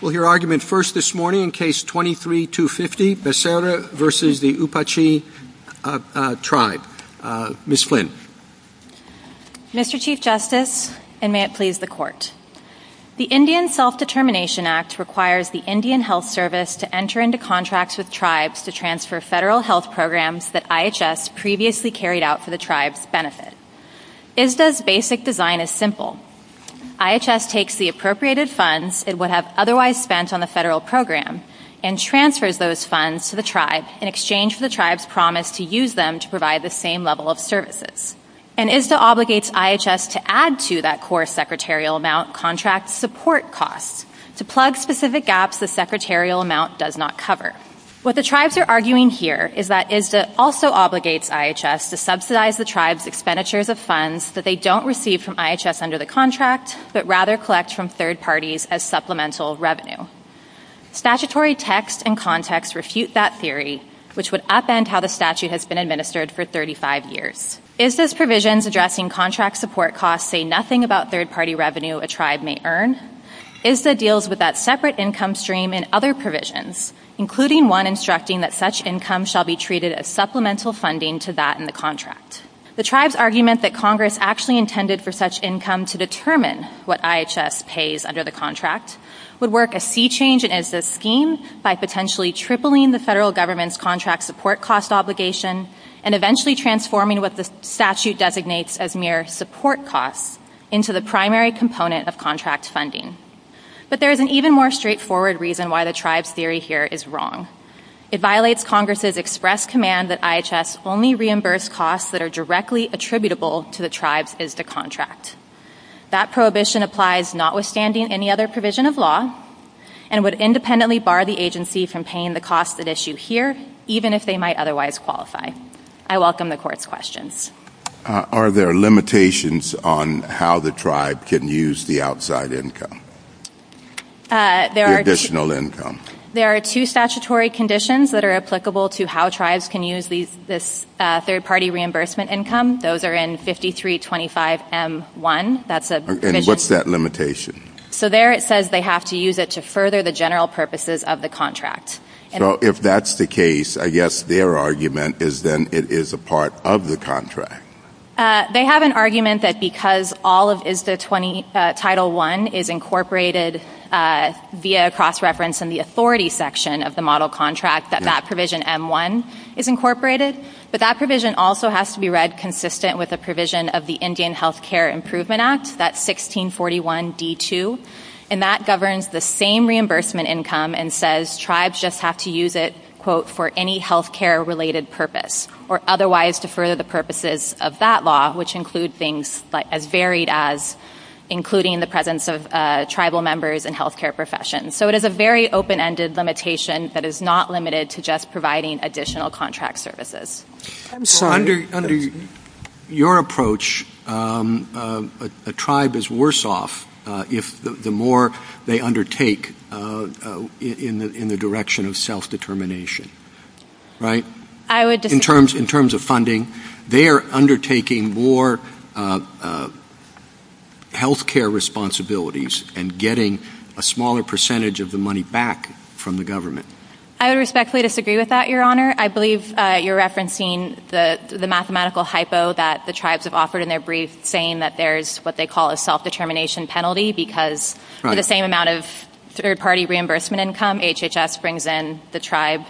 We'll hear argument first this morning in Case 23-250, Becerra v. Apache Tribe. Ms. Flynn. Mr. Chief Justice, and may it please the Court. The Indian Self-Determination Act requires the Indian Health Service to enter into contracts with tribes to transfer federal health programs that IHS previously carried out for the tribe's benefit. ISDA's basic design is simple. IHS takes the appropriated funds it would have otherwise spent on the federal program and transfers those funds to the tribes in exchange for the tribe's promise to use them to provide the same level of services. And ISDA obligates IHS to add to that core secretarial amount contract support costs to plug specific gaps the secretarial amount does not cover. What the tribes are arguing here is that ISDA also obligates IHS to subsidize the tribe's expenditures of funds that they don't receive from IHS under the contract, but rather collect from third parties as supplemental revenue. Statutory text and context refute that theory, which would upend how the statute has been administered for 35 years. Is this provisions addressing contract support costs say nothing about third-party revenue a tribe may earn? ISDA deals with that separate income stream in other provisions, including one instructing that such income shall be treated as supplemental funding to that in the contract. The tribe's argument that Congress actually intended for such income to determine what IHS pays under the contract would work a sea change in ISDA's scheme by potentially tripling the federal government's contract support cost obligation and eventually transforming what the statute designates as mere support costs into the primary component of contract funding. But there is an even more straightforward reason why the tribe's theory here is wrong. It violates Congress's express command that IHS only reimburse costs that are directly attributable to the tribe's ISDA contract. That prohibition applies notwithstanding any other provision of law and would independently bar the agency from paying the costs at issue here, even if they might otherwise qualify. I welcome the court's questions. Are there limitations on how the tribe can use the outside income? The additional income. There are two statutory conditions that are applicable to how tribes can use this third-party reimbursement income. Those are in 5325M1. And what's that limitation? So there it says they have to use it to further the general purposes of the contract. So if that's the case, I guess their argument is then it is a part of the contract. They have an argument that because all of ISDA Title I is incorporated via cross-reference in the authority section of the model contract, that that provision M1 is incorporated. But that provision also has to be read consistent with the provision of the Indian Health Care Improvement Act, that's 1641D2, and that governs the same reimbursement income and says tribes just have to use it, quote, for any health care-related purpose or otherwise defer the purposes of that law, which includes things as varied as including the presence of tribal members in health care professions. So it is a very open-ended limitation that is not limited to just providing additional contract services. Under your approach, a tribe is worse off if the more they undertake in the direction of self-determination, right? In terms of funding, they are undertaking more health care responsibilities and getting a smaller percentage of the money back from the government. I respectfully disagree with that, Your Honor. I believe you're referencing the mathematical hypo that the tribes have offered in their brief, saying that there's what they call a self-determination penalty because for the same amount of third-party reimbursement income HHS brings in, the tribe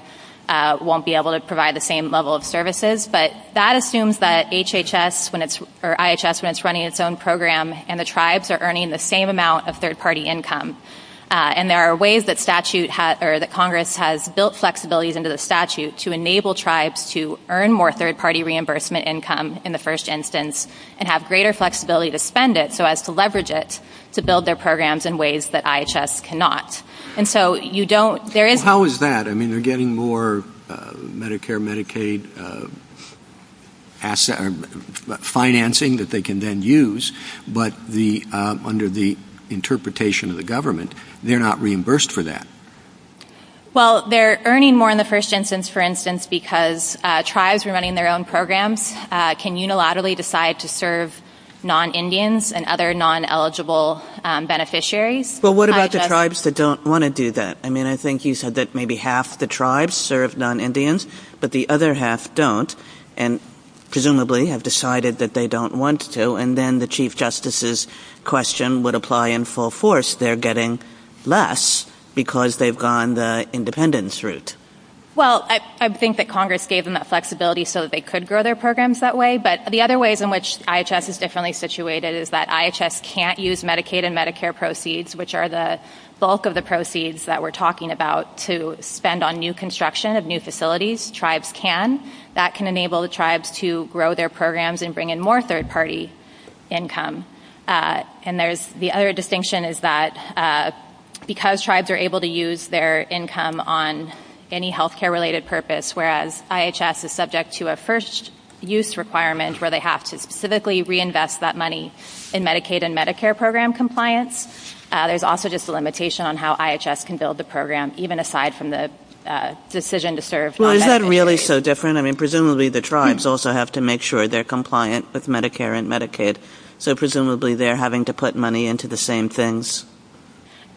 won't be able to provide the same level of services. But that assumes that IHS, when it's running its own program, and the tribes are earning the same amount of third-party income. And there are ways that Congress has built flexibilities into the statute to enable tribes to earn more third-party reimbursement income in the first instance and have greater flexibility to spend it so as to leverage it to build their programs in ways that IHS cannot. How is that? I mean, they're getting more Medicare, Medicaid financing that they can then use, but under the interpretation of the government, they're not reimbursed for that. Well, they're earning more in the first instance, for instance, because tribes are running their own programs, can unilaterally decide to serve non-Indians and other non-eligible beneficiaries. Well, what about the tribes that don't want to do that? I mean, I think you said that maybe half the tribes serve non-Indians, but the other half don't and presumably have decided that they don't want to, and then the Chief Justice's question would apply in full force. They're getting less because they've gone the independence route. Well, I think that Congress gave them that flexibility so that they could grow their programs that way, but the other ways in which IHS is differently situated is that IHS can't use Medicaid and Medicare proceeds, which are the bulk of the proceeds that we're talking about, to spend on new construction of new facilities. If tribes can, that can enable the tribes to grow their programs and bring in more third-party income. And the other distinction is that because tribes are able to use their income on any healthcare-related purpose, whereas IHS is subject to a first-use requirement where they have to specifically reinvest that money in Medicaid and Medicare program compliance, there's also just a limitation on how IHS can build the program, even aside from the decision to serve on Medicaid. Well, is that really so different? I mean, presumably the tribes also have to make sure they're compliant with Medicare and Medicaid, so presumably they're having to put money into the same things.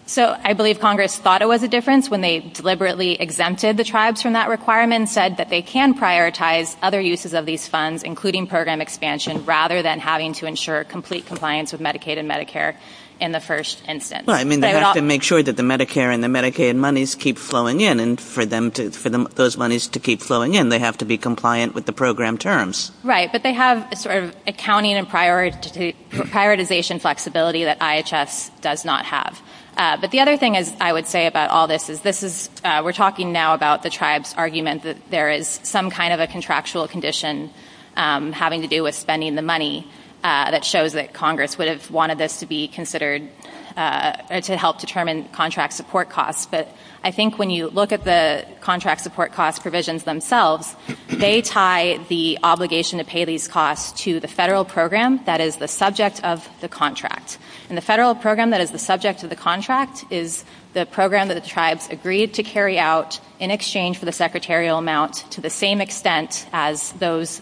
So I believe Congress thought it was a difference when they deliberately exempted the tribes from that requirement and said that they can prioritize other uses of these funds, including program expansion, rather than having to ensure complete compliance with Medicaid and Medicare in the first instance. Well, I mean, they have to make sure that the Medicare and the Medicaid monies keep flowing in, and for those monies to keep flowing in, they have to be compliant with the program terms. Right, but they have a sort of accounting and prioritization flexibility that IHS does not have. But the other thing I would say about all this is we're talking now about the tribes' argument that there is some kind of a contractual condition having to do with spending the money that shows that Congress would have wanted this to be considered to help determine contract support costs. But I think when you look at the contract support cost provisions themselves, they tie the obligation to pay these costs to the federal program that is the subject of the contract. And the federal program that is the subject of the contract is the program that the tribes agreed to carry out in exchange for the secretarial amount to the same extent as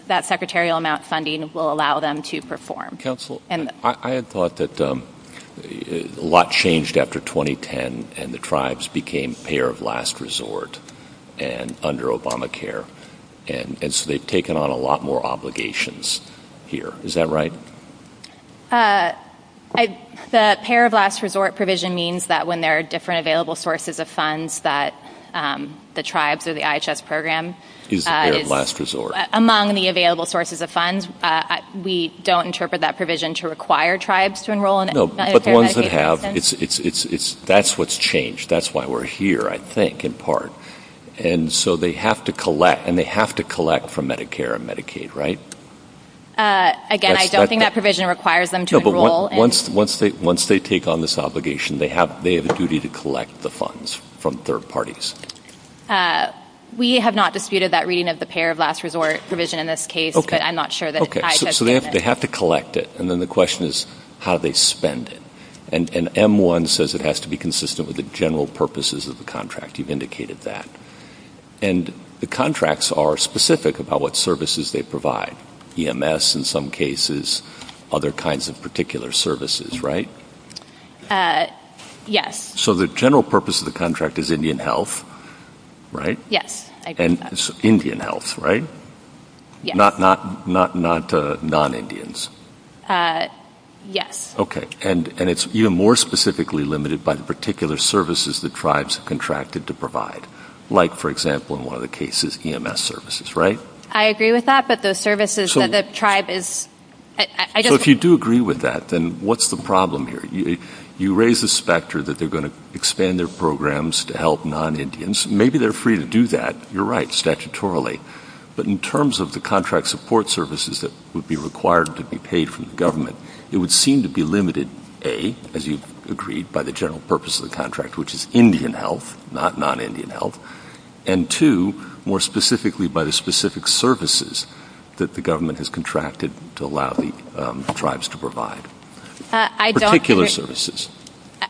that secretarial amount funding will allow them to perform. Counsel, I had thought that a lot changed after 2010 and the tribes became payer of last resort under Obamacare, and so they've taken on a lot more obligations here. Is that right? The payer of last resort provision means that when there are different available sources of funds that the tribes of the IHS program, among the available sources of funds, we don't interpret that provision to require tribes to enroll in it. No, but the ones that have, that's what's changed. That's why we're here, I think, in part. And so they have to collect from Medicare and Medicaid, right? Again, I don't think that provision requires them to enroll. Once they take on this obligation, they have a duty to collect the funds from third parties. We have not disputed that reading of the payer of last resort provision in this case, but I'm not sure that it's IHS. Okay, so they have to collect it, and then the question is how they spend it. And M1 says it has to be consistent with the general purposes of the contract. You've indicated that. And the contracts are specific about what services they provide, EMS in some cases, other kinds of particular services, right? Yes. So the general purpose of the contract is Indian health, right? Yes. Indian health, right? Yes. Not non-Indians? Yes. Okay. And it's even more specifically limited by the particular services the tribes contracted to provide, like, for example, in one of the cases, EMS services, right? I agree with that, but the services that the tribe is ‑‑ So if you do agree with that, then what's the problem here? You raise the specter that they're going to expand their programs to help non-Indians. Maybe they're free to do that. You're right, statutorily. But in terms of the contract support services that would be required to be paid from the government, it would seem to be limited, A, as you've agreed, by the general purpose of the contract, which is Indian health, not non-Indian health, and, two, more specifically by the specific services that the government has contracted to allow the tribes to provide, particular services.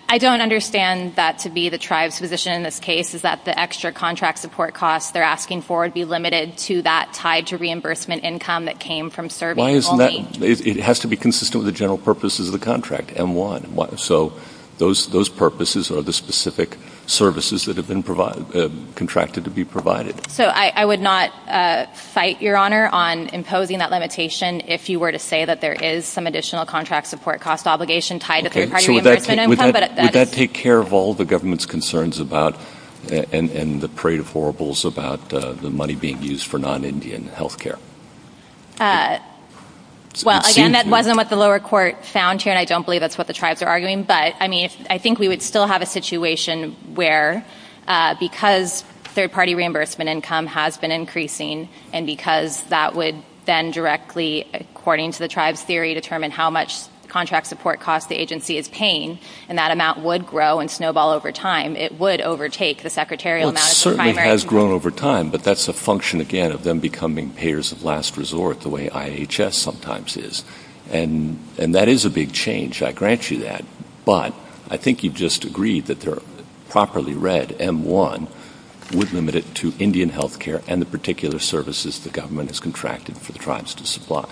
I don't understand that to be the tribe's position in this case, is that the extra contract support costs they're asking for would be limited to that tied to reimbursement income that came from serving only? It has to be consistent with the general purposes of the contract, M1. So those purposes are the specific services that have been contracted to be provided. So I would not cite, Your Honor, on imposing that limitation if you were to say that there is some additional contract support costs obligation tied to third-party reimbursement income. Would that take care of all the government's concerns about and the trade afforables about the money being used for non-Indian health care? Well, again, that wasn't what the lower court found here, and I don't believe that's what the tribes are arguing. But, I mean, I think we would still have a situation where, because third-party reimbursement income has been increasing and because that would then directly, according to the tribe's theory, determine how much contract support costs the agency is paying, and that amount would grow and snowball over time, it would overtake the secretarial amount of the primary. Well, it certainly has grown over time, but that's a function, again, of them becoming payers of last resort, the way IHS sometimes is. And that is a big change. I grant you that. But I think you've just agreed that the properly read M1 would limit it to Indian health care and the particular services the government has contracted for the tribes to supply.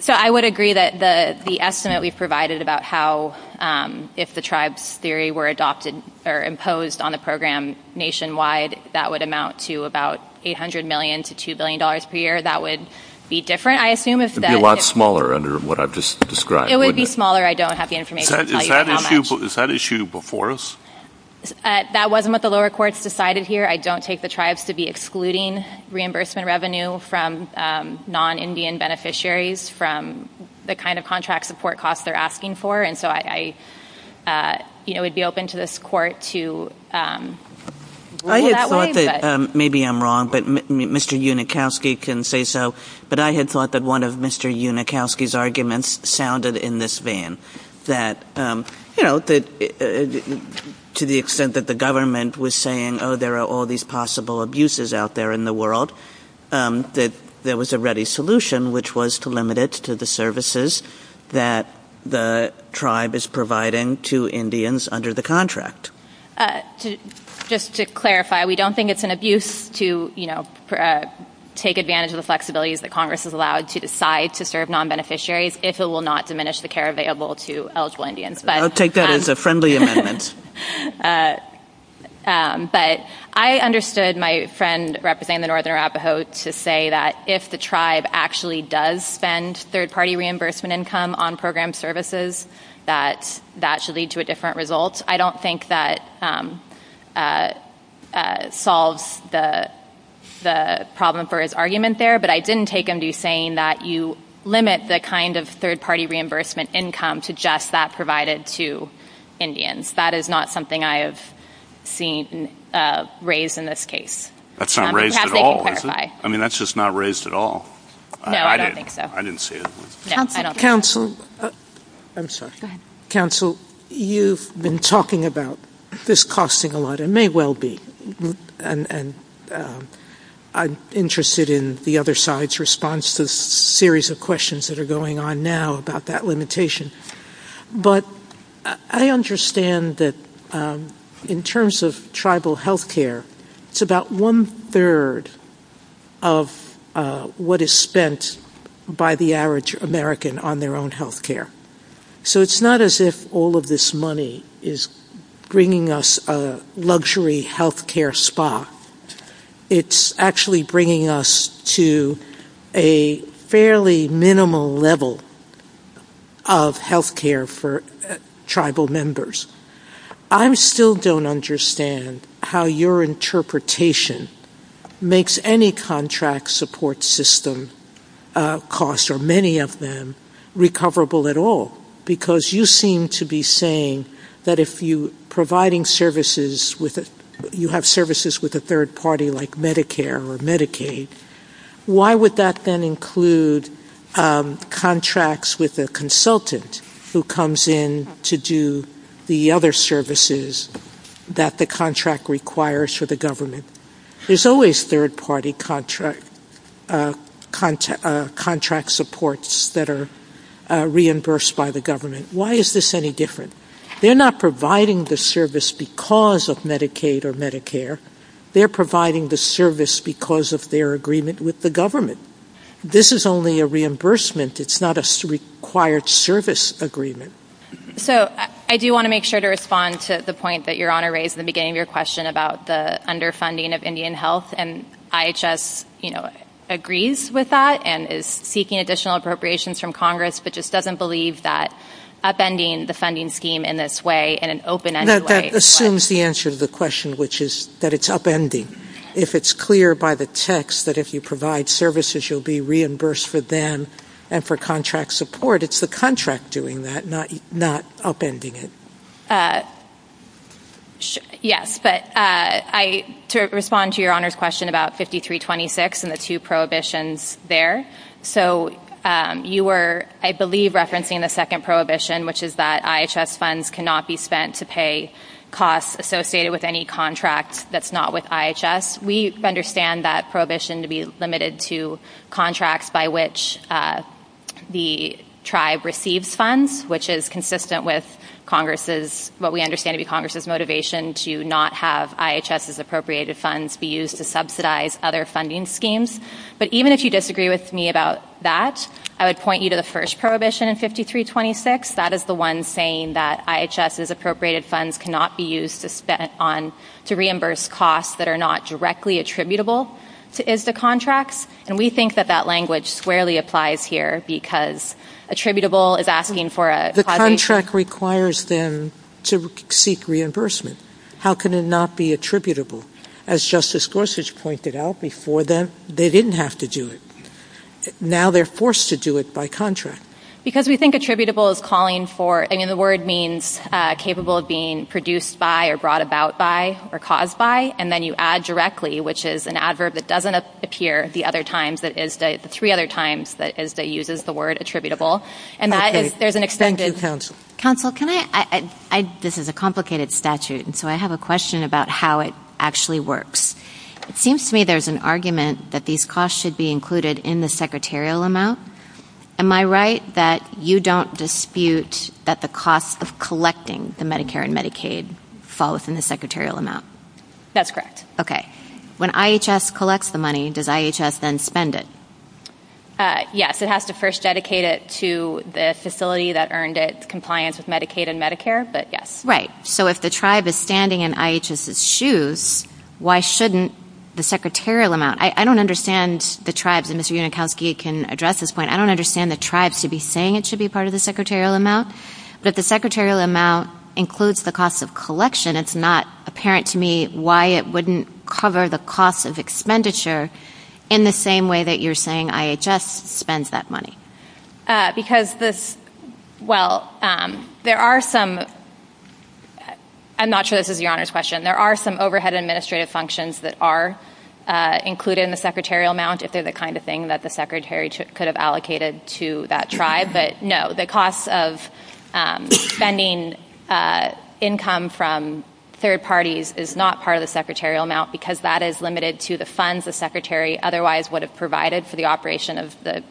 So I would agree that the estimate we provided about how, if the tribes' theory were adopted or imposed on a program nationwide, that would amount to about $800 million to $2 billion per year. That would be different, I assume, a lot smaller under what I've just described, wouldn't it? It would be smaller. I don't have the information to tell you how much. Is that issue before us? That wasn't what the lower courts decided here. I don't take the tribes to be excluding reimbursement revenue from non-Indian beneficiaries from the kind of contract support costs they're asking for, and so I would be open to this court to rule that way. I had thought that, maybe I'm wrong, but Mr. Unikowski can say so, but I had thought that one of Mr. Unikowski's arguments sounded in this vein, that, you know, to the extent that the government was saying, oh, there are all these possible abuses out there in the world, that there was a ready solution, which was to limit it to the services that the tribe is providing to Indians under the contract. Just to clarify, we don't think it's an abuse to, you know, take advantage of the flexibilities that Congress has allowed to decide to serve non-beneficiaries if it will not diminish the care available to eligible Indians. I'll take that as a friendly amendment. But I understood my friend representing the northern Arapaho to say that if the tribe actually does spend third-party reimbursement income on program services, that that should lead to a different result. I don't think that solves the problem for his argument there, but I didn't take him to saying that you limit the kind of third-party reimbursement income to just that provided to Indians. That is not something I have seen raised in this case. That's not raised at all. I mean, that's just not raised at all. No, I don't think so. I didn't see it. Counsel, you've been talking about this costing a lot, and may well be. And I'm interested in the other side's response to the series of questions that are going on now about that limitation. But I understand that in terms of tribal health care, it's about one-third of what is spent by the average American on their own health care. So it's not as if all of this money is bringing us a luxury health care spa. It's actually bringing us to a fairly minimal level of health care for tribal members. I still don't understand how your interpretation makes any contract support system cost, or many of them, recoverable at all, because you seem to be saying that if you're providing services with a third party like Medicare or Medicaid, why would that then include contracts with a consultant who comes in to do the other services that the contract requires for the government? There's always third party contract supports that are reimbursed by the government. Why is this any different? They're not providing the service because of Medicaid or Medicare. They're providing the service because of their agreement with the government. This is only a reimbursement. It's not a required service agreement. So I do want to make sure to respond to the point that Your Honor raised at the beginning of your question about the underfunding of Indian health. And IHS agrees with that and is seeking additional appropriations from Congress, but just doesn't believe that upending the funding scheme in this way, in an open-ended way. No, that assumes the answer to the question, which is that it's upending. If it's clear by the text that if you provide services, you'll be reimbursed for them and for contract support. It's the contract doing that, not upending it. Yes. But to respond to Your Honor's question about 5326 and the two prohibitions there. So you were, I believe, referencing the second prohibition, which is that IHS funds cannot be spent to pay costs associated with any contract that's not with IHS. We understand that prohibition to be limited to contracts by which the tribe receives funds, which is consistent with what we understand to be Congress's motivation to not have IHS's appropriated funds be used to subsidize other funding schemes. But even if you disagree with me about that, I would point you to the first prohibition in 5326. That is the one saying that IHS's appropriated funds cannot be used to reimburse costs that are not directly attributable to IHS contracts. And we think that that language squarely applies here because attributable is asking for a... The contract requires them to seek reimbursement. How can it not be attributable? As Justice Gorsuch pointed out before, they didn't have to do it. Now they're forced to do it by contract. Because we think attributable is calling for, I mean, the word means capable of being produced by or brought about by or caused by, and then you add directly, which is an adverb that doesn't appear the other times, the three other times that uses the word attributable. And there's an extended... Counsel, this is a complicated statute, and so I have a question about how it actually works. It seems to me there's an argument that these costs should be included in the secretarial amount. Am I right that you don't dispute that the cost of collecting the Medicare and Medicaid falls in the secretarial amount? That's correct. Okay. When IHS collects the money, does IHS then spend it? Yes, it has to first dedicate it to the facility that earned it compliance with Medicaid and Medicare, but yes. Right. So if the tribe is standing in IHS's shoes, why shouldn't the secretarial amount... I don't understand the tribes, and Mr. Unikowski can address this point. I don't understand the tribes to be saying it should be part of the secretarial amount, that the secretarial amount includes the cost of collection. It's not apparent to me why it wouldn't cover the cost of expenditure in the same way that you're saying IHS spends that money. Because this... Well, there are some... I'm not sure this is Your Honor's question. There are some overhead administrative functions that are included in the secretarial amount if they're the kind of thing that the secretary could have allocated to that tribe. But no, the cost of spending income from third parties is not part of the secretarial amount because that is limited to the funds the secretary otherwise would have provided for the operation of the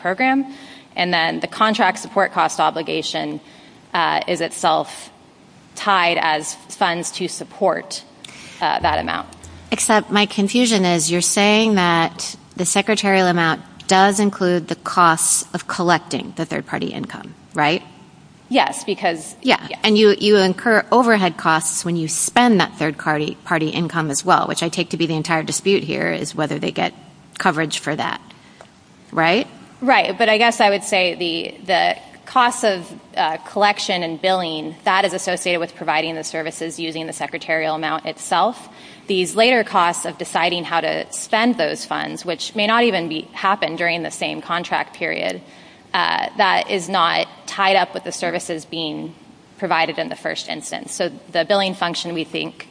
program. And then the contract support cost obligation is itself tied as funds to support that amount. Except my confusion is you're saying that the secretarial amount does include the cost of collecting the third-party income, right? Yes, because... Yes, and you incur overhead costs when you spend that third-party income as well, which I take to be the entire dispute here is whether they get coverage for that, right? Right, but I guess I would say the cost of collection and billing, that is associated with providing the services using the secretarial amount itself. These later costs of deciding how to spend those funds, which may not even happen during the same contract period, that is not tied up with the services being provided in the first instance. So the billing function, we think,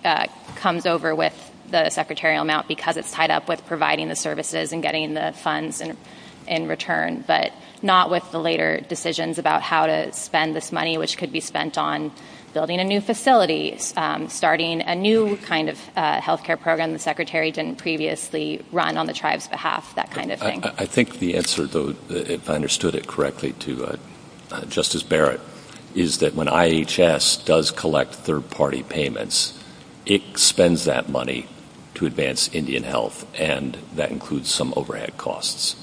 comes over with the secretarial amount because it's tied up with providing the services and getting the funds in return, but not with the later decisions about how to spend this money, which could be spent on building a new facility, starting a new kind of health care program the secretary didn't previously run on the tribe's behalf, that kind of thing. I think the answer, though, if I understood it correctly to Justice Barrett, is that when IHS does collect third-party payments, it spends that money to advance Indian health, and that includes some overhead costs.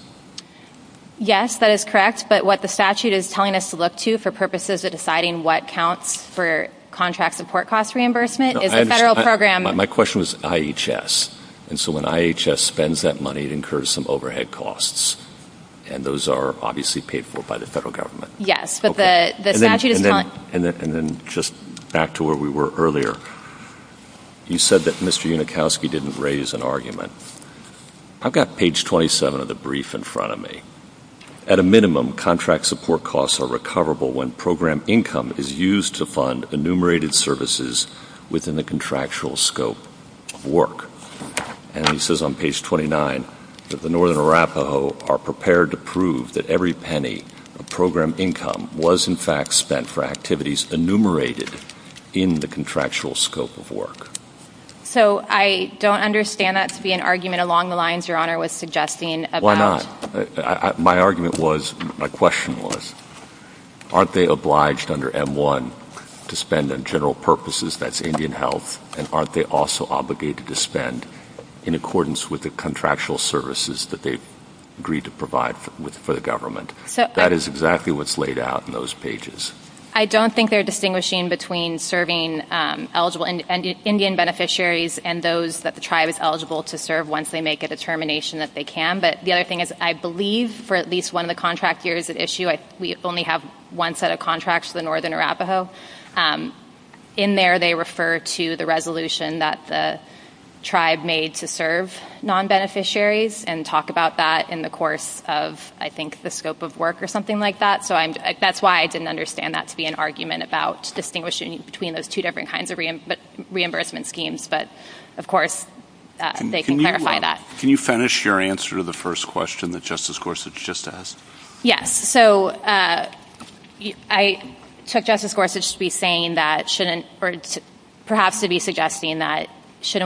Yes, that is correct. But what the statute is telling us to look to for purposes of deciding what counts for contract support cost reimbursement is the federal program. My question was IHS. And so when IHS spends that money, it incurs some overhead costs, and those are obviously paid for by the federal government. Yes. And then just back to where we were earlier. You said that Mr. Unikowski didn't raise an argument. I've got page 27 of the brief in front of me. At a minimum, contract support costs are recoverable when program income is used to fund enumerated services within the contractual scope of work. And it says on page 29 that the Northern Arapaho are prepared to prove that every penny of program income was in fact spent for activities enumerated in the contractual scope of work. So I don't understand that to be an argument along the lines Your Honor was suggesting. Why not? My argument was, my question was, aren't they obliged under M-1 to spend on general purposes, that's Indian health, and aren't they also obligated to spend in accordance with the contractual services that they've agreed to provide for the government? That is exactly what's laid out in those pages. I don't think they're distinguishing between serving eligible Indian beneficiaries and those that the tribe is eligible to serve once they make a determination that they can. But the other thing is I believe for at least one of the contract years at issue, we only have one set of contracts for the Northern Arapaho. In there they refer to the resolution that the tribe made to serve non-beneficiaries and talk about that in the course of, I think, the scope of work or something like that. So that's why I didn't understand that to be an argument about distinguishing between those two different kinds of reimbursement schemes. But, of course, they can clarify that. Can you finish your answer to the first question that Justice Gorsuch just asked? Yes. So I took Justice Gorsuch to be saying that shouldn't, or perhaps to be suggesting that it's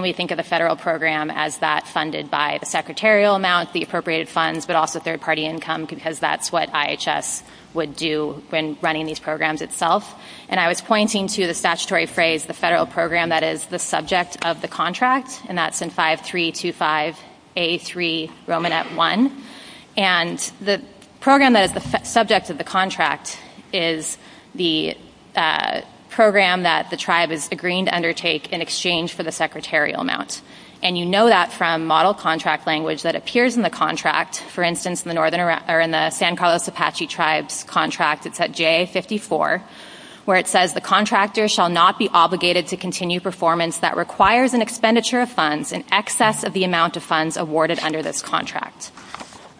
not funded by the secretarial amounts, the appropriated funds, but also third-party income because that's what IHS would do when running these programs itself. And I was pointing to the statutory phrase, the federal program that is the subject of the contract, and that's in 5325A3R1. And the program that is the subject of the contract is the program that the tribe is agreeing to undertake in exchange for the secretarial amount. And you know that from model contract language that appears in the contract. For instance, in the San Carlos Apache Tribes contract, it's at JA54, where it says the contractor shall not be obligated to continue performance that requires an expenditure of funds in excess of the amount of funds awarded under this contract.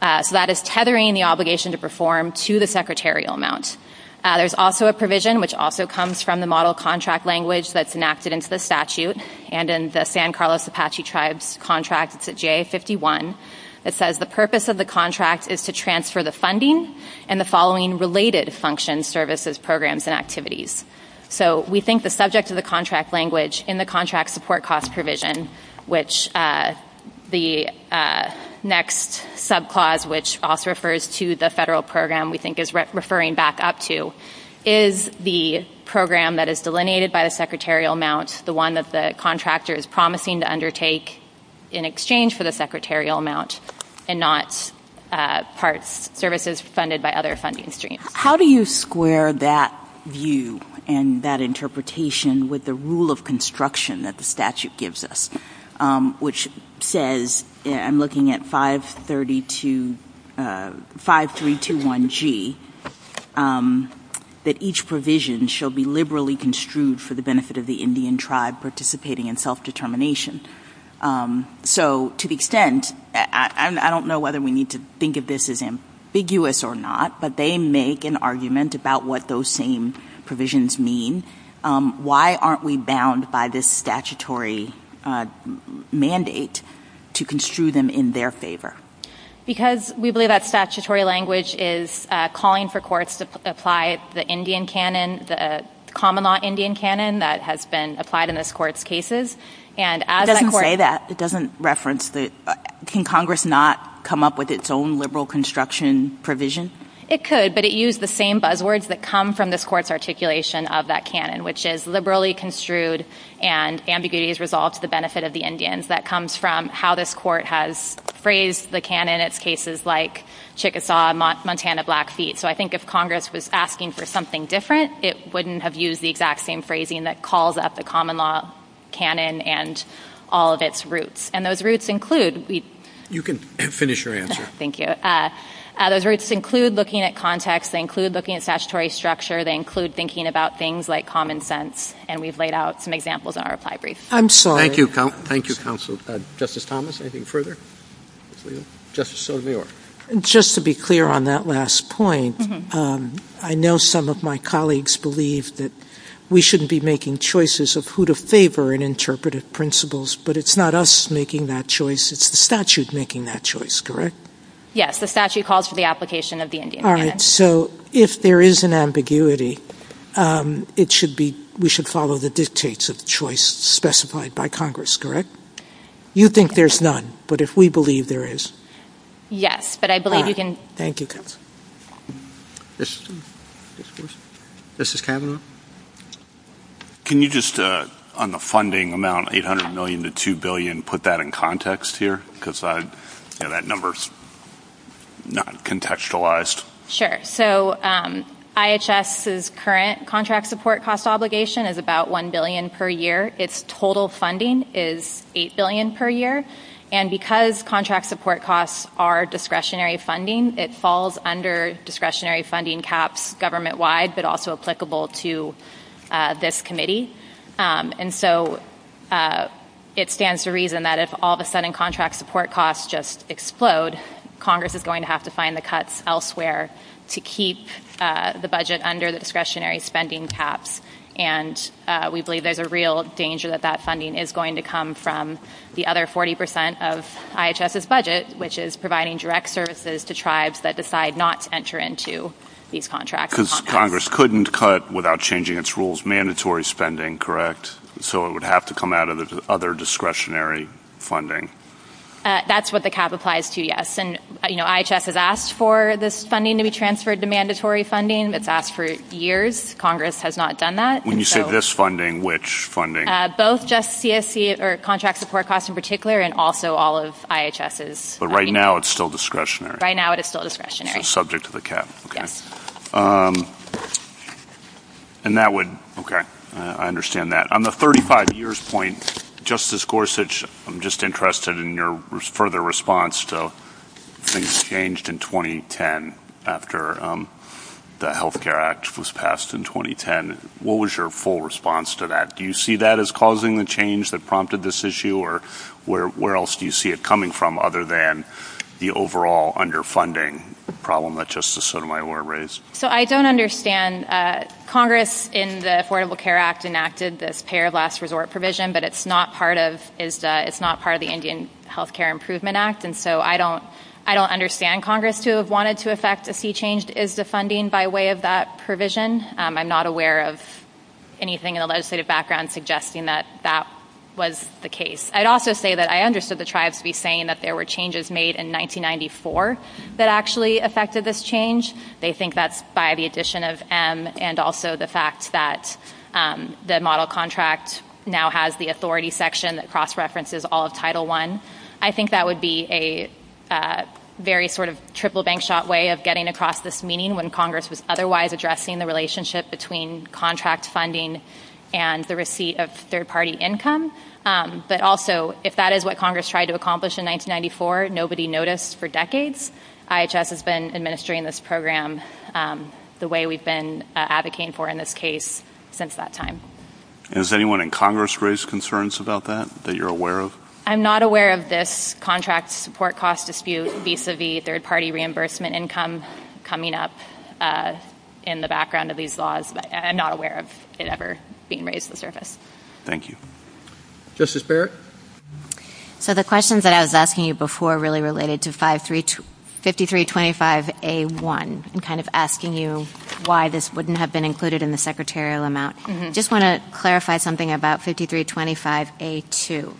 So that is tethering the obligation to perform to the secretarial amount. There's also a provision, which also comes from the model contract language that's enacted into the statute, and in the San Carlos Apache Tribes contract, it's at JA51, that says the purpose of the contract is to transfer the funding and the following related functions, services, programs, and activities. So we think the subject of the contract language in the contract support cost provision, which the next subclause, which also refers to the federal program we think is referring back up to, is the program that is delineated by the secretarial amount, the one that the contractor is promising to undertake in exchange for the secretarial amount and not services funded by other funding streams. How do you square that view and that interpretation with the rule of construction that the statute gives us, which says, I'm looking at 5321G, that each provision shall be liberally construed for the benefit of the Indian tribe participating in self-determination. So to the extent, I don't know whether we need to think of this as ambiguous or not, but they make an argument about what those same provisions mean. Why aren't we bound by this statutory mandate to construe them in their favor? Because we believe that statutory language is calling for courts to apply the Indian canon, the common law Indian canon that has been applied in this court's cases. It doesn't say that. It doesn't reference that. Can Congress not come up with its own liberal construction provision? It could, but it used the same buzzwords that come from this court's articulation of that canon, which is liberally construed and ambiguities resolved to the benefit of the Indians. That comes from how this court has phrased the canon in its cases like Chickasaw, Montana Blackfeet. So I think if Congress was asking for something different, it wouldn't have used the exact same phrasing that calls up the common law canon and all of its roots. And those roots include... You can finish your answer. Yes, thank you. Those roots include looking at context. They include looking at statutory structure. They include thinking about things like common sense. And we've laid out some examples in our reply brief. Thank you, counsel. Justice Thomas, anything further? Just to be clear on that last point, I know some of my colleagues believe that we shouldn't be making choices of who to favor in interpretive principles, but it's not us making that choice. It's the statute making that choice, correct? Yes, the statute calls for the application of the Indian tradition. All right, so if there is an ambiguity, we should follow the dictates of choice specified by Congress, correct? You think there's none, but if we believe there is. Yes, but I believe you can... All right, thank you, counsel. Justice Kavanaugh? Can you just, on the funding amount, $800 million to $2 billion, put that in context here? Because that number is not contextualized. Sure. So IHS's current contract support cost obligation is about $1 billion per year. Its total funding is $8 billion per year. And because contract support costs are discretionary funding, it falls under discretionary funding caps government-wide, but also applicable to this committee. And so it stands to reason that if all of a sudden contract support costs just explode, Congress is going to have to find the cuts elsewhere to keep the budget under the discretionary spending caps. And we believe there's a real danger that that funding is going to come from the other 40 percent of IHS's budget, which is providing direct services to tribes that decide not to enter into these contracts. Because Congress couldn't cut, without changing its rules, mandatory spending, correct? So it would have to come out of the other discretionary funding. That's what the cap applies to, yes. And, you know, IHS has asked for this funding to be transferred to mandatory funding. It's asked for years. Congress has not done that. When you say this funding, which funding? Both just contract support costs in particular, and also all of IHS's. But right now it's still discretionary. Right now it is still discretionary. It's subject to the cap, okay. Yes. And that would, okay, I understand that. On the 35 years point, Justice Gorsuch, I'm just interested in your further response to things changed in 2010, after the Health Care Act was passed in 2010. What was your full response to that? Do you see that as causing the change that prompted this issue, or where else do you see it coming from other than the overall underfunding problem that Justice Sotomayor raised? So I don't understand. Congress in the Affordable Care Act enacted this payer last resort provision, but it's not part of the Indian Health Care Improvement Act. And so I don't understand Congress to have wanted to affect a fee change. Is the funding by way of that provision? I'm not aware of anything in the legislative background suggesting that that was the case. I'd also say that I understood the tribes to be saying that there were changes made in 1994 that actually affected this change. They think that's by the addition of M and also the fact that the model contract now has the authority section that cross-references all of Title I. I think that would be a very sort of triple bank shot way of getting across this meaning when Congress is otherwise addressing the relationship between contract funding and the receipt of third-party income. But also, if that is what Congress tried to accomplish in 1994, nobody noticed for decades. IHS has been administering this program the way we've been advocating for in this case since that time. Is anyone in Congress raised concerns about that, that you're aware of? I'm not aware of this contract support cost dispute vis-à-vis third-party reimbursement income coming up in the background of these laws. I'm not aware of it ever being raised to the surface. Thank you. Justice Barrett? So the questions that I was asking you before really related to 5325A1 and kind of asking you why this wouldn't have been included in the secretarial amount. I just want to clarify something about 5325A2.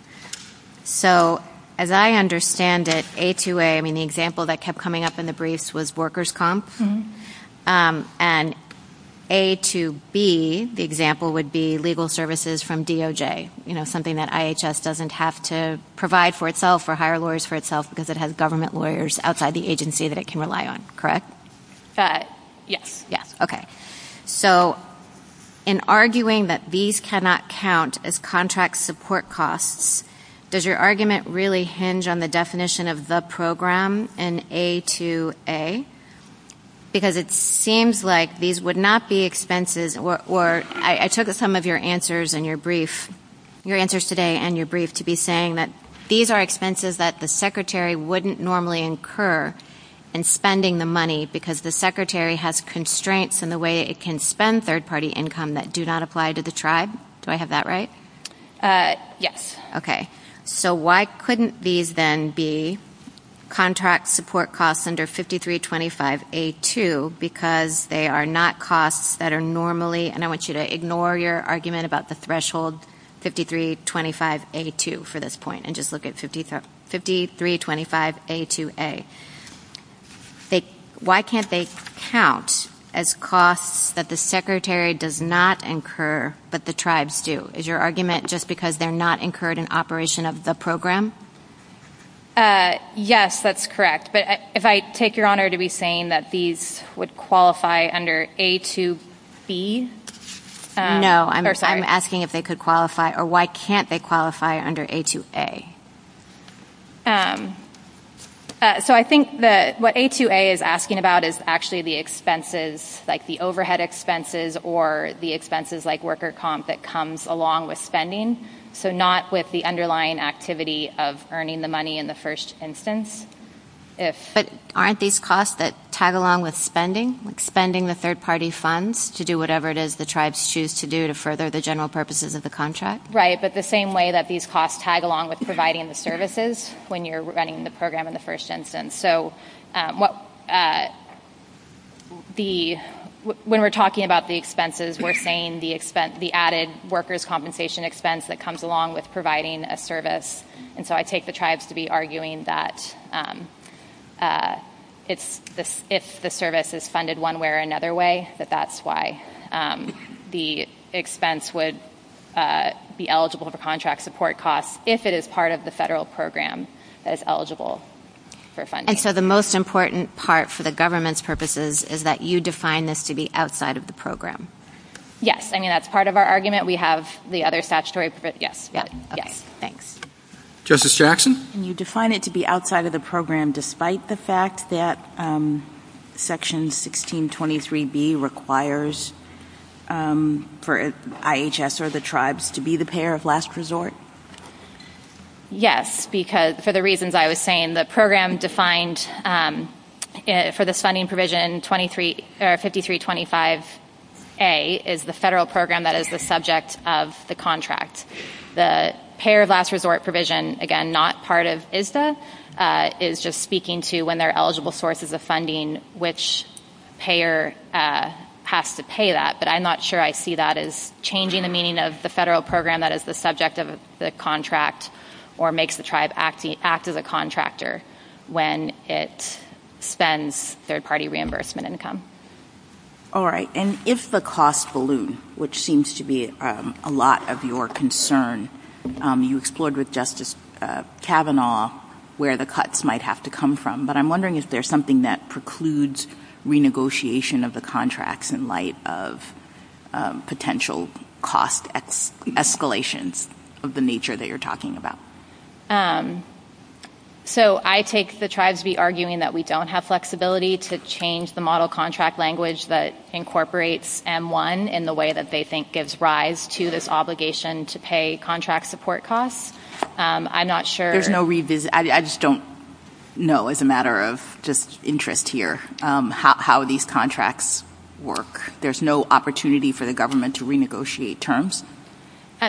So as I understand it, A2A, the example that kept coming up in the briefs was workers' comp. And A2B, the example would be legal services from DOJ, something that IHS doesn't have to provide for itself or hire lawyers for itself because it has government lawyers outside the agency that it can rely on, correct? Yes. Yes, okay. So in arguing that these cannot count as contract support costs, does your argument really hinge on the definition of the program in A2A? Because it seems like these would not be expenses, or I took some of your answers in your brief, your answers today and your brief, to be saying that these are expenses that the secretary wouldn't normally incur in spending the money because the secretary has constraints in the way it can spend third-party income that do not apply to the tribe. Do I have that right? Yes. Okay. So why couldn't these then be contract support costs under 5325A2 because they are not costs that are normally, and I want you to ignore your argument about the threshold 5325A2 for this point and just look at 5325A2A. Why can't they count as costs that the secretary does not incur but the tribes do? Is your argument just because they're not incurred in operation of the program? Yes, that's correct. But if I take your honor to be saying that these would qualify under A2B? No, I'm asking if they could qualify, or why can't they qualify under A2A? So I think that what A2A is asking about is actually the expenses, like the overhead expenses or the expenses like worker comp that comes along with spending, so not with the underlying activity of earning the money in the first instance. But aren't these costs that tag along with spending, like spending the third-party funds to do whatever it is the tribes choose to do to further the general purposes of the contract? Right, but the same way that these costs tag along with providing the services when you're running the program in the first instance. So when we're talking about the expenses, we're saying the added workers' compensation expense that comes along with providing a service. And so I take the tribes to be arguing that if the service is funded one way or another way, that that's why the expense would be eligible for contract support costs if it is part of the federal program that is eligible for funding. And so the most important part for the government's purposes is that you define this to be outside of the program? Yes, I mean, that's part of our argument. We have the other statutory... Justice Jackson? Can you define it to be outside of the program despite the fact that Section 1623B requires for IHS or the tribes to be the payer of last resort? Yes, because for the reasons I was saying, the program defined for the funding provision 5325A is the federal program that is the subject of the contract. The payer of last resort provision, again, not part of ISSA, is just speaking to when they're eligible sources of funding which payer has to pay that. But I'm not sure I see that as changing the meaning of the federal program that is the subject of the contract or makes the tribe act as a contractor when it spends third-party reimbursement income. All right. And if the costs balloon, which seems to be a lot of your concern, you explored with Justice Kavanaugh where the cuts might have to come from, but I'm wondering if there's something that precludes renegotiation of the contracts in light of potential cost escalations of the nature that you're talking about. So I take the tribes be arguing that we don't have flexibility to change the model contract language that incorporates M1 in the way that they think gives rise to this obligation to pay contract support costs. I'm not sure. I just don't know as a matter of just interest here how these contracts work. There's no opportunity for the government to renegotiate terms?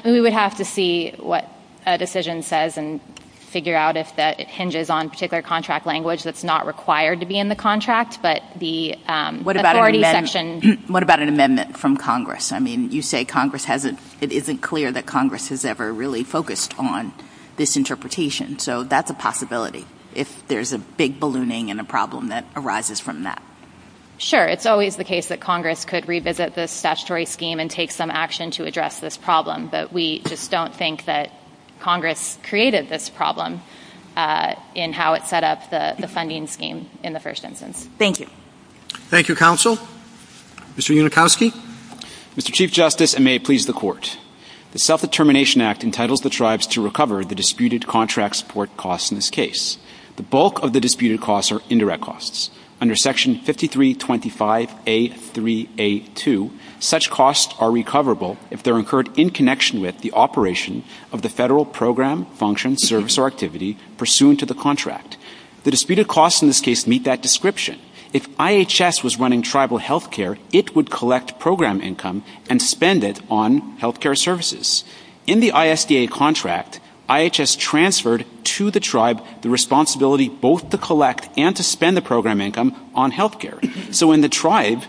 We would have to see what a decision says and figure out if that hinges on particular contract language that's not required to be in the contract. What about an amendment from Congress? I mean, you say it isn't clear that Congress has ever really focused on this interpretation, so that's a possibility if there's a big ballooning and a problem that arises from that. Sure. It's always the case that Congress could revisit this statutory scheme and take some action to address this problem, but we just don't think that Congress created this problem in how it set up the funding scheme in the first instance. Thank you. Thank you, Counsel. Mr. Unikowski? Mr. Chief Justice, and may it please the Court, the Self-Determination Act entitles the tribes to recover the disputed contract support costs in this case. The bulk of the disputed costs are indirect costs. Under Section 5325A3A2, such costs are recoverable if they're incurred in connection with the operation of the federal program, function, service, or activity pursuant to the contract. The disputed costs in this case meet that description. If IHS was running tribal health care, it would collect program income and spend it on health care services. In the ISDA contract, IHS transferred to the tribe the responsibility both to collect and to spend the program income on health care. So when the tribe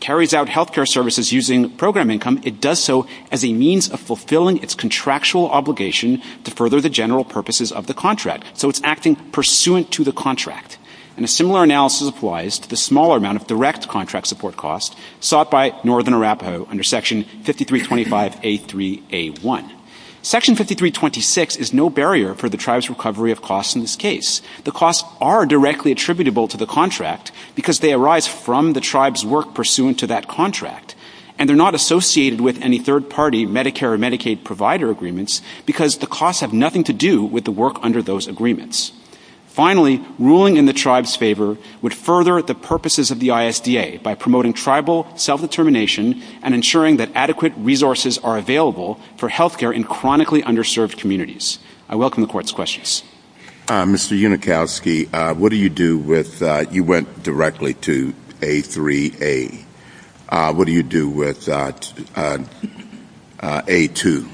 carries out health care services using program income, it does so as a means of fulfilling its contractual obligation to further the general purposes of the contract. So it's acting pursuant to the contract. And a similar analysis applies to the smaller amount of direct contract support costs sought by Northern Arapaho under Section 5325A3A1. Section 5326 is no barrier for the tribe's recovery of costs in this case. The costs are directly attributable to the contract because they arise from the tribe's work pursuant to that contract. And they're not associated with any third-party Medicare or Medicaid provider agreements because the costs have nothing to do with the work under those agreements. Finally, ruling in the tribe's favor would further the purposes of the ISDA by promoting tribal self-determination and ensuring that adequate resources are available for health care in chronically underserved communities. I welcome the Court's questions. Mr. Unikowski, what do you do with you went directly to A3A. What do you do with A2?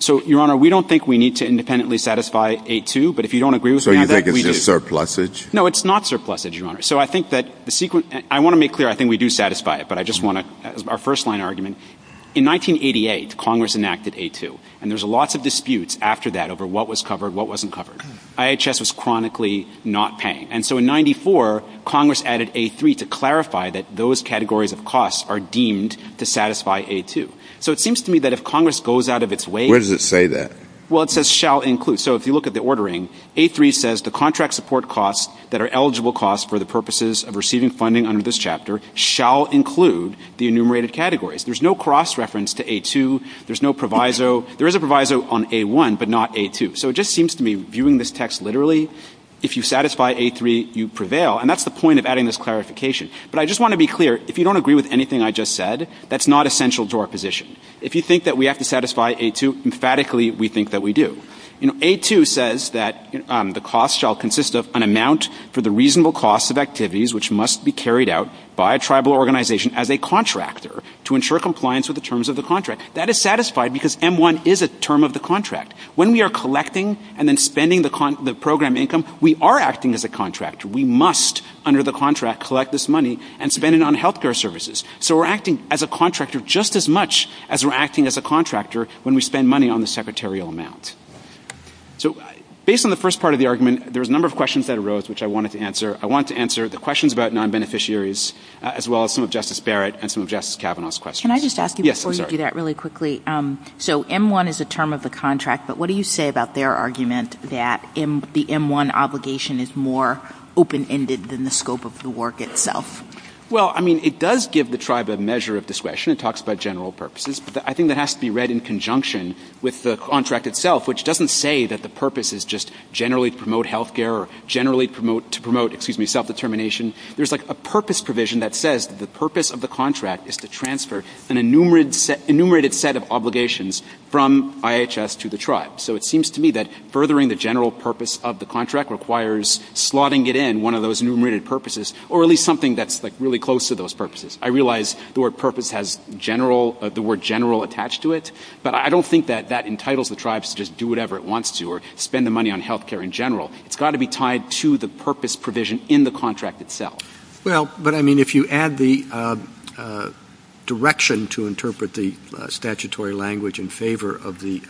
So, Your Honor, we don't think we need to independently satisfy A2, but if you don't agree with me on that, we do. So you think it's just surplusage? No, it's not surplusage, Your Honor. So I think that the sequence – I want to make clear I think we do satisfy it, but I just want to – our first-line argument. In 1988, Congress enacted A2, and there's lots of disputes after that over what was covered, what wasn't covered. IHS was chronically not paying. And so in 1994, Congress added A3 to clarify that those categories of costs are deemed to satisfy A2. So it seems to me that if Congress goes out of its way – Where does it say that? Well, it says shall include. So if you look at the ordering, A3 says the contract support costs that are eligible costs for the purposes of receiving funding under this chapter shall include the enumerated categories. There's no cross-reference to A2. There's no proviso. There is a proviso on A1, but not A2. So it just seems to me, viewing this text literally, if you satisfy A3, you prevail. And that's the point of adding this clarification. But I just want to be clear, if you don't agree with anything I just said, that's not essential to our position. If you think that we have to satisfy A2, emphatically, we think that we do. A2 says that the costs shall consist of an amount for the reasonable cost of activities which must be carried out by a tribal organization as a contractor to ensure compliance with the terms of the contract. That is satisfied because M1 is a term of the contract. When we are collecting and then spending the program income, we are acting as a contractor. We must, under the contract, collect this money and spend it on health care services. So we're acting as a contractor just as much as we're acting as a contractor when we spend money on the secretarial amount. So based on the first part of the argument, there's a number of questions that arose which I wanted to answer. I wanted to answer the questions about non-beneficiaries as well as some of Justice Barrett and some of Justice Kavanaugh's questions. Can I just ask you before you do that really quickly? So M1 is a term of the contract, but what do you say about their argument that the M1 obligation is more open-ended than the scope of the work itself? Well, I mean, it does give the tribe a measure of discretion. It talks about general purposes. I think that has to be read in conjunction with the contract itself, which doesn't say that the purpose is just generally to promote health care or generally to promote self-determination. There's a purpose provision that says the purpose of the contract is to transfer an enumerated set of obligations from IHS to the tribe. So it seems to me that furthering the general purpose of the contract requires slotting it in one of those enumerated purposes or at least something that's really close to those purposes. I realize the word purpose has the word general attached to it, but I don't think that that entitles the tribes to just do whatever it wants to or spend the money on health care in general. It's got to be tied to the purpose provision in the contract itself. Well, but I mean, if you add the direction to interpret the statutory language in favor of the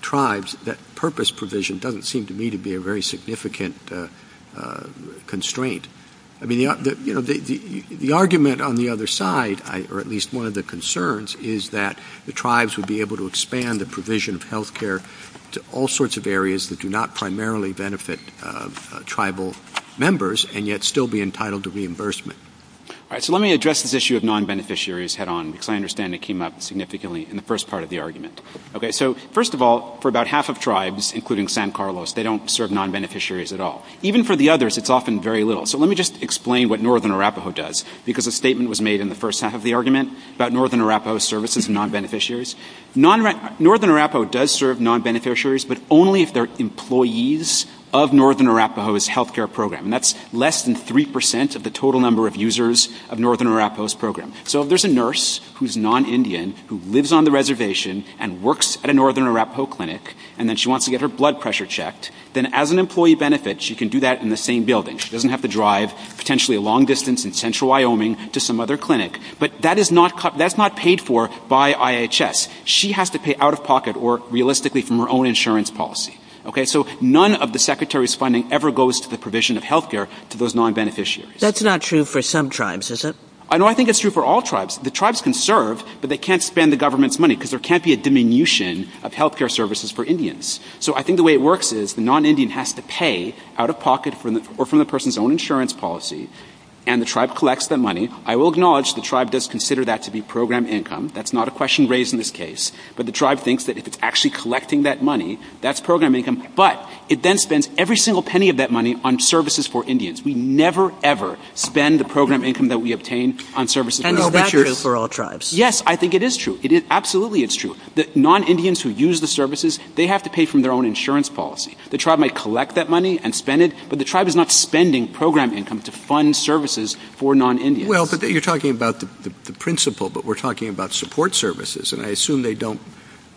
tribes, that purpose provision doesn't seem to me to be a very significant constraint. I mean, the argument on the other side, or at least one of the concerns, is that the tribes would be able to expand the provision of health care to all sorts of areas that do not primarily benefit tribal members and yet still be entitled to reimbursement. All right, so let me address this issue of non-beneficiaries head on because I understand it came up significantly in the first part of the argument. Okay, so first of all, for about half of tribes, including San Carlos, they don't serve non-beneficiaries at all. Even for the others, it's often very little. So let me just explain what northern Arapaho does because a statement was made in the first half of the argument about northern Arapaho services and non-beneficiaries. Northern Arapaho does serve non-beneficiaries, but only if they're employees of northern Arapaho's health care program. That's less than 3% of the total number of users of northern Arapaho's program. So if there's a nurse who's non-Indian, who lives on the reservation and works at a northern Arapaho clinic, and then she wants to get her blood pressure checked, then as an employee benefit, she can do that in the same building. She doesn't have to drive potentially a long distance in central Wyoming to some other clinic, but that's not paid for by IHS. She has to pay out-of-pocket or realistically from her own insurance policy. So none of the secretary's funding ever goes to the provision of health care to those non-beneficiaries. That's not true for some tribes, is it? No, I think it's true for all tribes. The tribes can serve, but they can't spend the government's money because there can't be a diminution of health care services for Indians. So I think the way it works is the non-Indian has to pay out-of-pocket or from the person's own insurance policy, and the tribe collects that money. I will acknowledge the tribe does consider that to be program income. That's not a question raised in this case. But the tribe thinks that if it's actually collecting that money, that's program income. But it then spends every single penny of that money on services for Indians. We never, ever spend the program income that we obtain on services for Indians. And that's true for all tribes. Yes, I think it is true. Absolutely it's true. The non-Indians who use the services, they have to pay from their own insurance policy. The tribe might collect that money and spend it, but the tribe is not spending program income to fund services for non-Indians. Well, but you're talking about the principle, but we're talking about support services. And I assume they don't,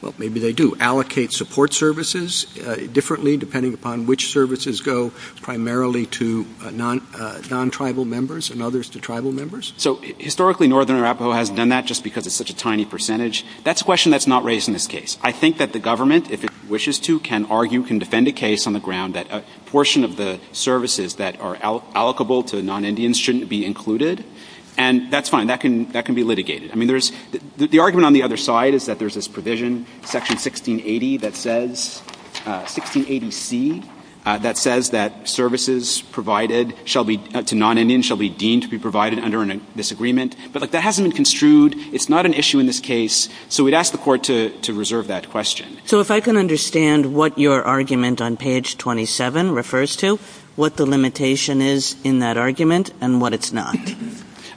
well, maybe they do, allocate support services differently depending upon which services go primarily to non-tribal members and others to tribal members. So historically Northern Arapaho has done that just because it's such a tiny percentage. That's a question that's not raised in this case. I think that the government, if it wishes to, can argue, can defend a case on the ground that a portion of the services that are allocable to non-Indians shouldn't be included. And that's fine. That can be litigated. I mean, the argument on the other side is that there's this provision, Section 1680, that says, 1680C, that says that services provided to non-Indians shall be deemed to be provided under a disagreement. But that hasn't been construed. It's not an issue in this case. So we'd ask the court to reserve that question. So if I can understand what your argument on page 27 refers to, what the limitation is in that argument and what it's not.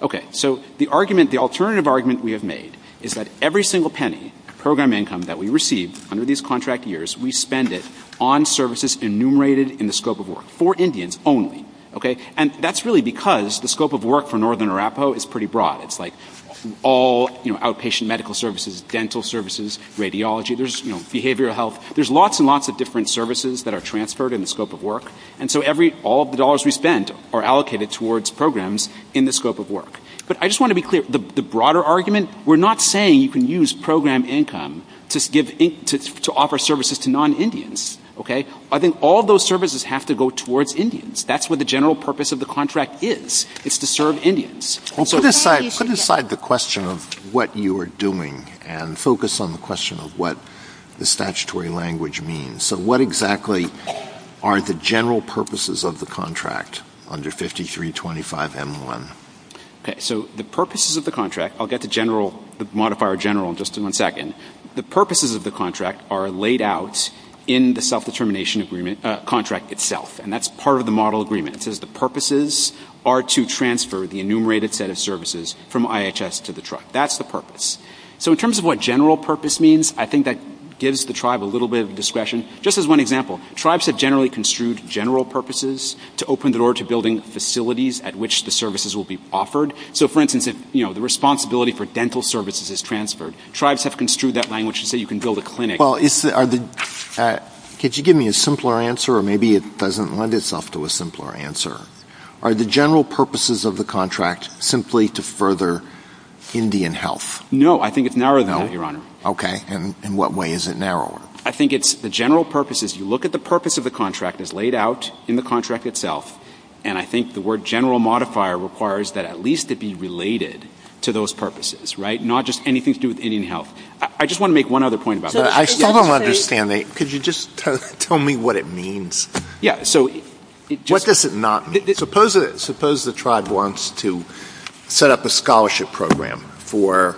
Okay. So the alternative argument we have made is that every single penny program income that we receive under these contract years, we spend it on services enumerated in the scope of work for Indians only. And that's really because the scope of work for Northern Arapaho is pretty broad. It's like all outpatient medical services, dental services, radiology. There's behavioral health. There's lots and lots of different services that are transferred in the scope of work. And so all of the dollars we spend are allocated towards programs in the scope of work. But I just want to be clear, the broader argument, we're not saying you can use program income to offer services to non-Indians. I think all those services have to go towards Indians. That's what the general purpose of the contract is. It's to serve Indians. Put aside the question of what you are doing and focus on the question of what the statutory language means. So what exactly are the general purposes of the contract under 5325M1? So the purposes of the contract, I'll get the modifier general in just one second. The purposes of the contract are laid out in the self-determination contract itself. And that's part of the model agreement. It says the purposes are to transfer the enumerated set of services from IHS to the tribe. That's the purpose. So in terms of what general purpose means, I think that gives the tribe a little bit of discretion. Just as one example, tribes have generally construed general purposes to open the door to building facilities at which the services will be offered. So for instance, the responsibility for dental services is transferred. Tribes have construed that language to say you can build a clinic. Could you give me a simpler answer? Or maybe it doesn't lend itself to a simpler answer. Are the general purposes of the contract simply to further Indian health? No, I think it's narrower than that, Your Honor. Okay. In what way is it narrower? I think it's the general purposes. You look at the purpose of the contract as laid out in the contract itself, and I think the word general modifier requires that at least it be related to those purposes, right, not just anything to do with Indian health. I just want to make one other point about that. I still don't understand. Could you just tell me what it means? Yeah. What does it not mean? Suppose the tribe wants to set up a scholarship program for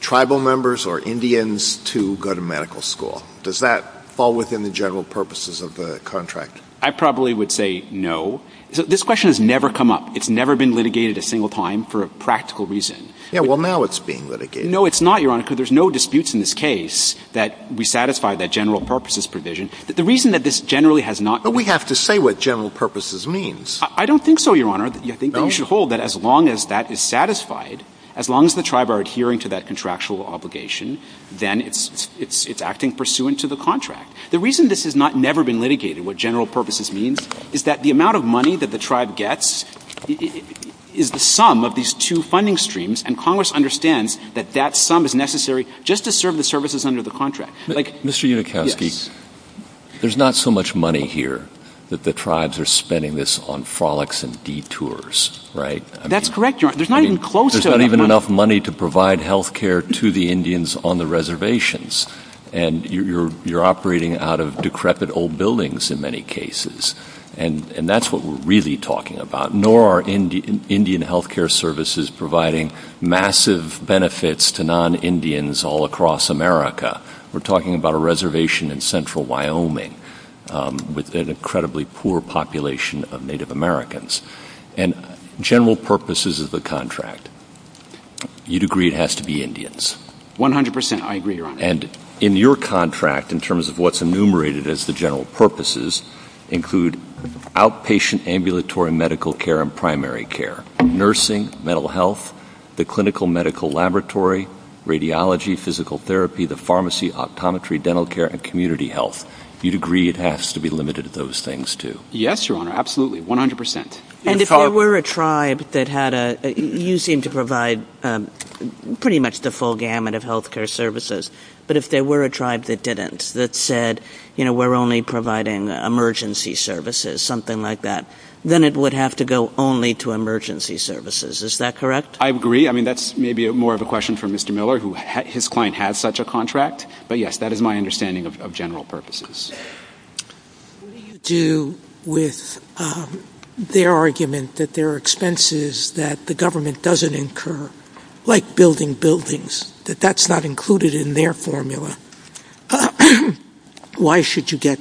tribal members or Indians to go to medical school. Does that fall within the general purposes of the contract? I probably would say no. This question has never come up. It's never been litigated a single time for a practical reason. Yeah, well, now it's being litigated. No, it's not, Your Honor, because there's no disputes in this case that we satisfy that general purposes provision. But we have to say what general purposes means. I don't think so, Your Honor. You should hold that as long as that is satisfied, as long as the tribe are adhering to that contractual obligation, then it's acting pursuant to the contract. The reason this has never been litigated, what general purposes means, is that the amount of money that the tribe gets is the sum of these two funding streams, and Congress understands that that sum is necessary just to serve the services under the contract. Mr. Unikowsky, there's not so much money here that the tribes are spending this on frolics and detours, right? That's correct, Your Honor. There's not even close to that money. There's not even enough money to provide health care to the Indians on the reservations, and you're operating out of decrepit old buildings in many cases, and that's what we're really talking about. Nor are Indian health care services providing massive benefits to non-Indians all across America. We're talking about a reservation in central Wyoming with an incredibly poor population of Native Americans. And general purposes of the contract, you'd agree it has to be Indians. One hundred percent, I agree, Your Honor. And in your contract, in terms of what's enumerated as the general purposes, include outpatient ambulatory medical care and primary care, nursing, mental health, the clinical medical laboratory, radiology, physical therapy, the pharmacy, optometry, dental care, and community health. You'd agree it has to be limited to those things too. Yes, Your Honor, absolutely, one hundred percent. And if there were a tribe that had a – you seem to provide pretty much the full gamut of health care services, but if there were a tribe that didn't, that said, you know, we're only providing emergency services, something like that, then it would have to go only to emergency services. Is that correct? I agree. I mean, that's maybe more of a question for Mr. Miller, who his client has such a contract. But yes, that is my understanding of general purposes. What do you do with their argument that there are expenses that the government doesn't incur, like building buildings, that that's not included in their formula? Why should you get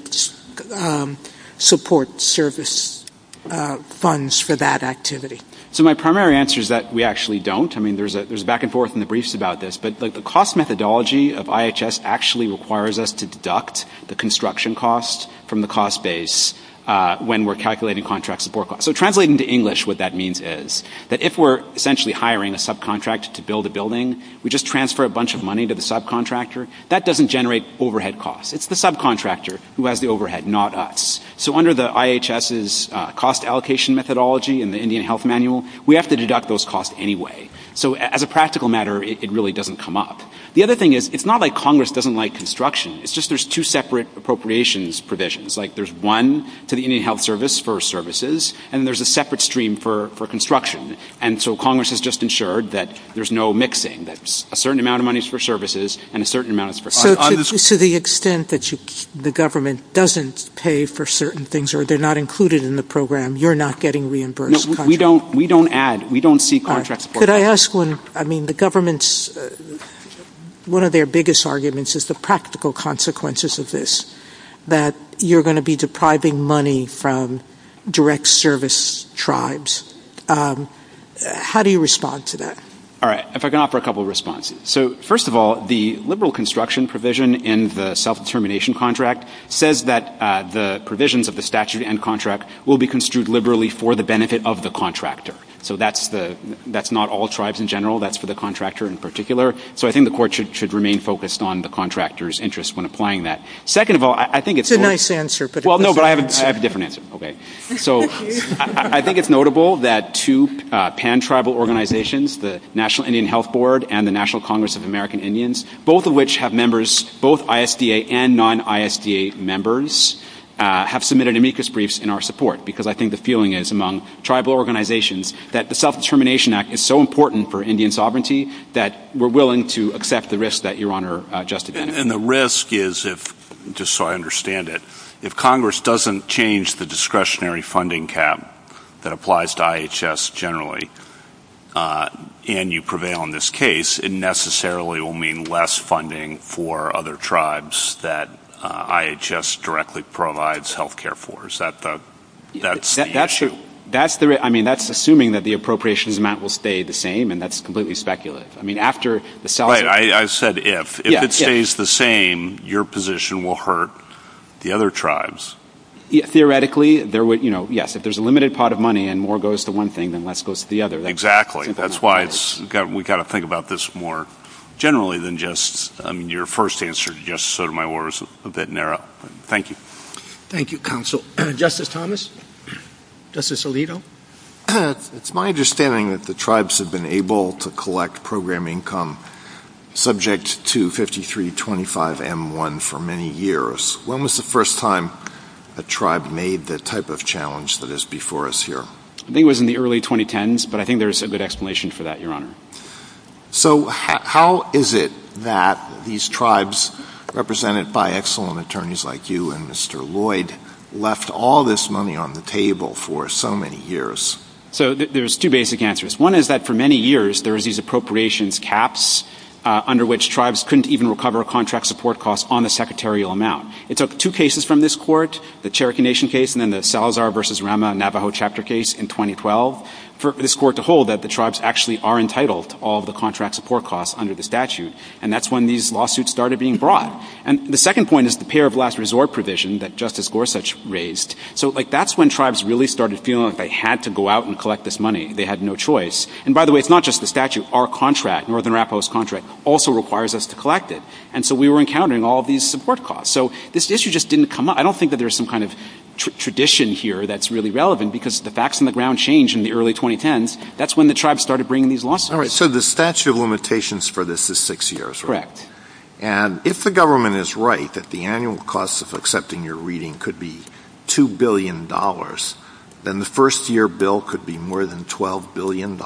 support service funds for that activity? So my primary answer is that we actually don't. I mean, there's a back and forth in the briefs about this, but the cost methodology of IHS actually requires us to deduct the construction costs from the cost base when we're calculating contract support costs. So translating to English what that means is that if we're essentially hiring a subcontractor to build a building, we just transfer a bunch of money to the subcontractor. That doesn't generate overhead costs. It's the subcontractor who has the overhead, not us. So under the IHS's cost allocation methodology in the Indian Health Manual, we have to deduct those costs anyway. So as a practical matter, it really doesn't come up. The other thing is it's not like Congress doesn't like construction. It's just there's two separate appropriations provisions. Like there's one to the Indian Health Service for services, and there's a separate stream for construction. And so Congress has just ensured that there's no mixing, that a certain amount of money is for services and a certain amount is for other services. To the extent that the government doesn't pay for certain things or they're not included in the program, you're not getting reimbursed. We don't add. We don't seek contract support. Could I ask one? I mean the government's, one of their biggest arguments is the practical consequences of this, that you're going to be depriving money from direct service tribes. How do you respond to that? All right. If I can offer a couple of responses. So first of all, the liberal construction provision in the self-determination contract says that the provisions of the statute and contract will be construed liberally for the benefit of the contractor. So that's not all tribes in general. That's for the contractor in particular. So I think the court should remain focused on the contractor's interest when applying that. Second of all, I think it's more. It's a nice answer. Well, no, but I have a different answer. So I think it's notable that two pan-tribal organizations, the National Indian Health Board and the National Congress of American Indians, both of which have members, both ISDA and non-ISDA members, have submitted amicus briefs in our support because I think the feeling is among tribal organizations that the Self-Determination Act is so important for Indian sovereignty that we're willing to accept the risk that Your Honor just identified. And the risk is if, just so I understand it, if Congress doesn't change the discretionary funding cap that applies to IHS generally and you prevail in this case, it necessarily will mean less funding for other tribes that IHS directly provides health care for. That's assuming that the appropriations amount will stay the same, and that's completely speculative. I said if. If it stays the same, your position will hurt. The other tribes. Theoretically, yes, if there's a limited pot of money and more goes to one thing than less goes to the other. Exactly. That's why we've got to think about this more generally than just your first answer, just sort of my words a bit narrow. Thank you. Thank you, Counsel. Justice Thomas? Justice Alito? It's my understanding that the tribes have been able to collect program income subject to 5325M1 for many years. When was the first time a tribe made the type of challenge that is before us here? I think it was in the early 2010s, but I think there's a good explanation for that, Your Honor. So how is it that these tribes, represented by excellent attorneys like you and Mr. Lloyd, left all this money on the table for so many years? So there's two basic answers. One is that for many years there was these appropriations caps under which tribes couldn't even recover contract support costs on a secretarial amount. It took two cases from this court, the Cherokee Nation case and then the Salazar v. Rama Navajo chapter case in 2012, for this court to hold that the tribes actually are entitled to all the contract support costs under the statute, and that's when these lawsuits started being brought. And the second point is the pay or blast resort provision that Justice Gorsuch raised. So that's when tribes really started feeling like they had to go out and collect this money. They had no choice. And by the way, it's not just the statute. Our contract, Northern Arapaho's contract, also requires us to collect it. And so we were encountering all these support costs. So this issue just didn't come up. I don't think that there's some kind of tradition here that's really relevant because the facts on the ground changed in the early 2010s. That's when the tribes started bringing these lawsuits. All right. So the statute of limitations for this is six years, right? Correct. And if the government is right that the annual cost of accepting your reading could be $2 billion, then the first-year bill could be more than $12 billion.